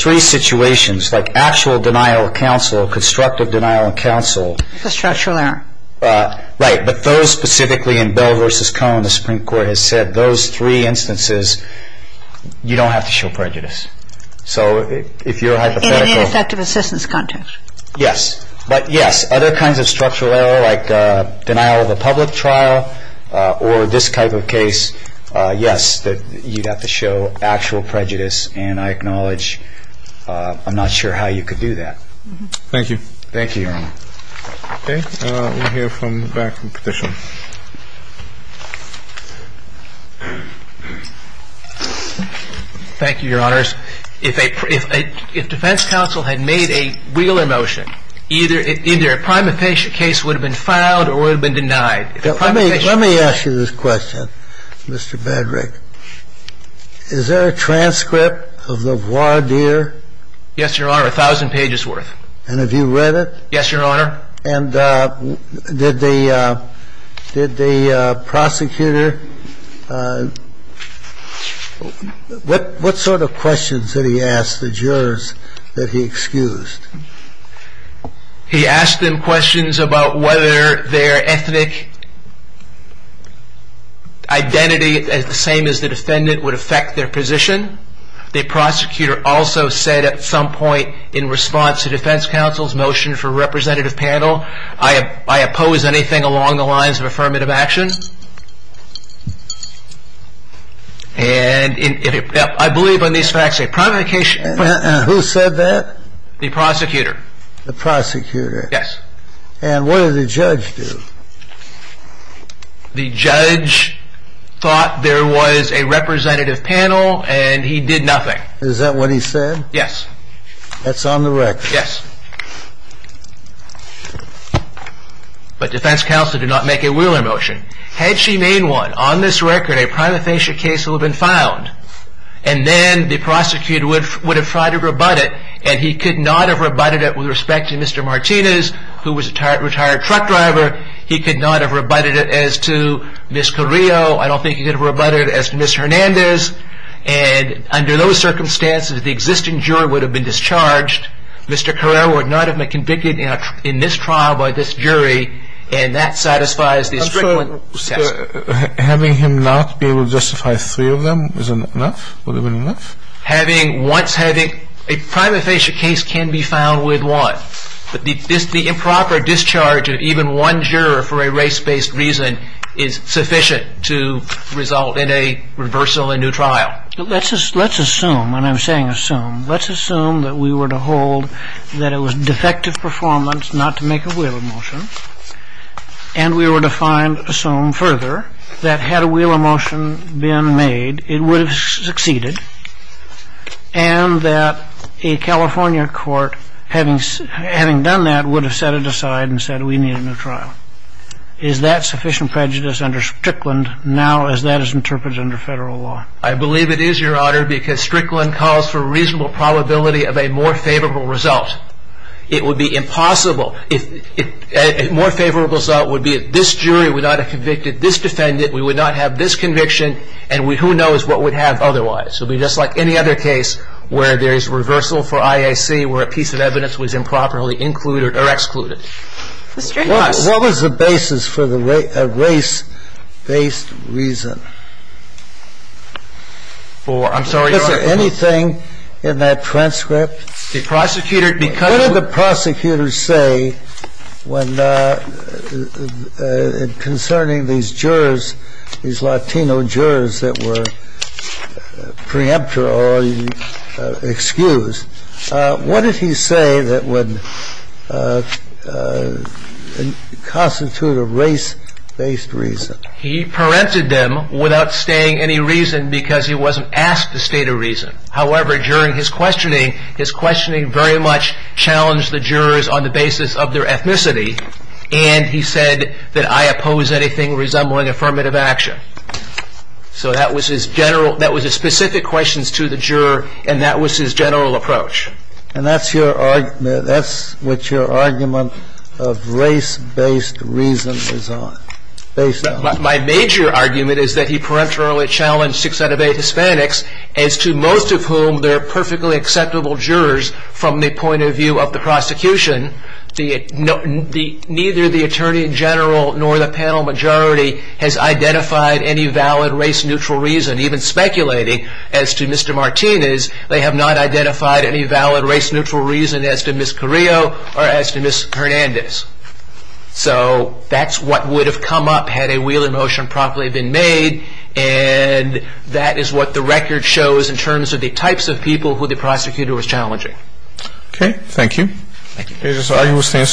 three situations, like actual denial of counsel, constructive denial of counsel. Structural error. Right. But those specifically in Bell v. Cohn, the Supreme Court has said, those three instances, you don't have to show prejudice. So if you're hypothetical. In an ineffective assistance context. Yes. But, yes, other kinds of structural error, like denial of a public trial or this type of case, yes, you'd have to show actual prejudice, and I acknowledge I'm not sure how you could do that. Thank you. Thank you, Your Honor. Okay. We'll hear from the back of the Petition. Thank you, Your Honors. If a defense counsel had made a Wheeler motion, either a prima facie case would have been filed or it would have been denied. Let me ask you this question, Mr. Bedrick. Is there a transcript of the voir dire? Yes, Your Honor. A thousand pages worth. And have you read it? Yes, Your Honor. And did the prosecutor, what sort of questions did he ask the jurors that he excused? He asked them questions about whether their ethnic identity, the same as the defendant, would affect their position. The prosecutor also said at some point in response to defense counsel's motion for representative panel, I oppose anything along the lines of affirmative action. And I believe on these facts a prima facie. And who said that? The prosecutor. The prosecutor. Yes. And what did the judge do? The judge thought there was a representative panel and he did nothing. Is that what he said? Yes. That's on the record. Yes. But defense counsel did not make a Wheeler motion. Had she made one, on this record, a prima facie case would have been filed. And then the prosecutor would have tried to rebut it and he could not have rebutted it with respect to Mr. Martinez, who was a retired truck driver. He could not have rebutted it as to Ms. Carrillo. I don't think he could have rebutted it as to Ms. Hernandez. And under those circumstances, the existing juror would have been discharged. Mr. Carrillo would not have been convicted in this trial by this jury. And that satisfies the strict one. So having him not be able to justify three of them isn't enough? Would it be enough? Having, once having, a prima facie case can be filed with one. But the improper discharge of even one juror for a race-based reason is sufficient to result in a reversal in a new trial. Let's assume, and I'm saying assume, let's assume that we were to hold that it was defective performance not to make a Wheeler motion, and we were to find, assume further, that had a Wheeler motion been made, it would have succeeded, and that a California court, having done that, would have set it aside and said we need a new trial. Is that sufficient prejudice under Strickland now as that is interpreted under federal law? I believe it is, Your Honor, because Strickland calls for a reasonable probability of a more favorable result. It would be impossible. A more favorable result would be that this jury would not have convicted this defendant, we would not have this conviction, and who knows what we'd have otherwise. So it would be just like any other case where there is reversal for IAC, where a piece of evidence was improperly included or excluded. Mr. Harris. What was the basis for the race-based reason? For, I'm sorry, Your Honor. Is there anything in that transcript? The prosecutor, because. What did the prosecutor say when, concerning these jurors, these Latino jurors that were preemptor or excused, what did he say that would constitute a race-based reason? He preempted them without stating any reason because he wasn't asked to state a reason. However, during his questioning, his questioning very much challenged the jurors on the basis of their ethnicity, and he said that I oppose anything resembling affirmative action. So that was his general, that was his specific questions to the juror, and that was his general approach. And that's your argument, that's what your argument of race-based reason is on, based on. My major argument is that he preemptorily challenged six out of eight Hispanics, as to most of whom they're perfectly acceptable jurors from the point of view of the prosecution. Neither the attorney general nor the panel majority has identified any valid race-neutral reason, even speculating as to Mr. Martinez, they have not identified any valid race-neutral reason as to Ms. Carrillo or as to Ms. Hernandez. So that's what would have come up had a wheeler motion promptly been made, and that is what the record shows in terms of the types of people who the prosecutor was challenging. Okay. Thank you. Thank you. This argument stands submitted. We are adjourned.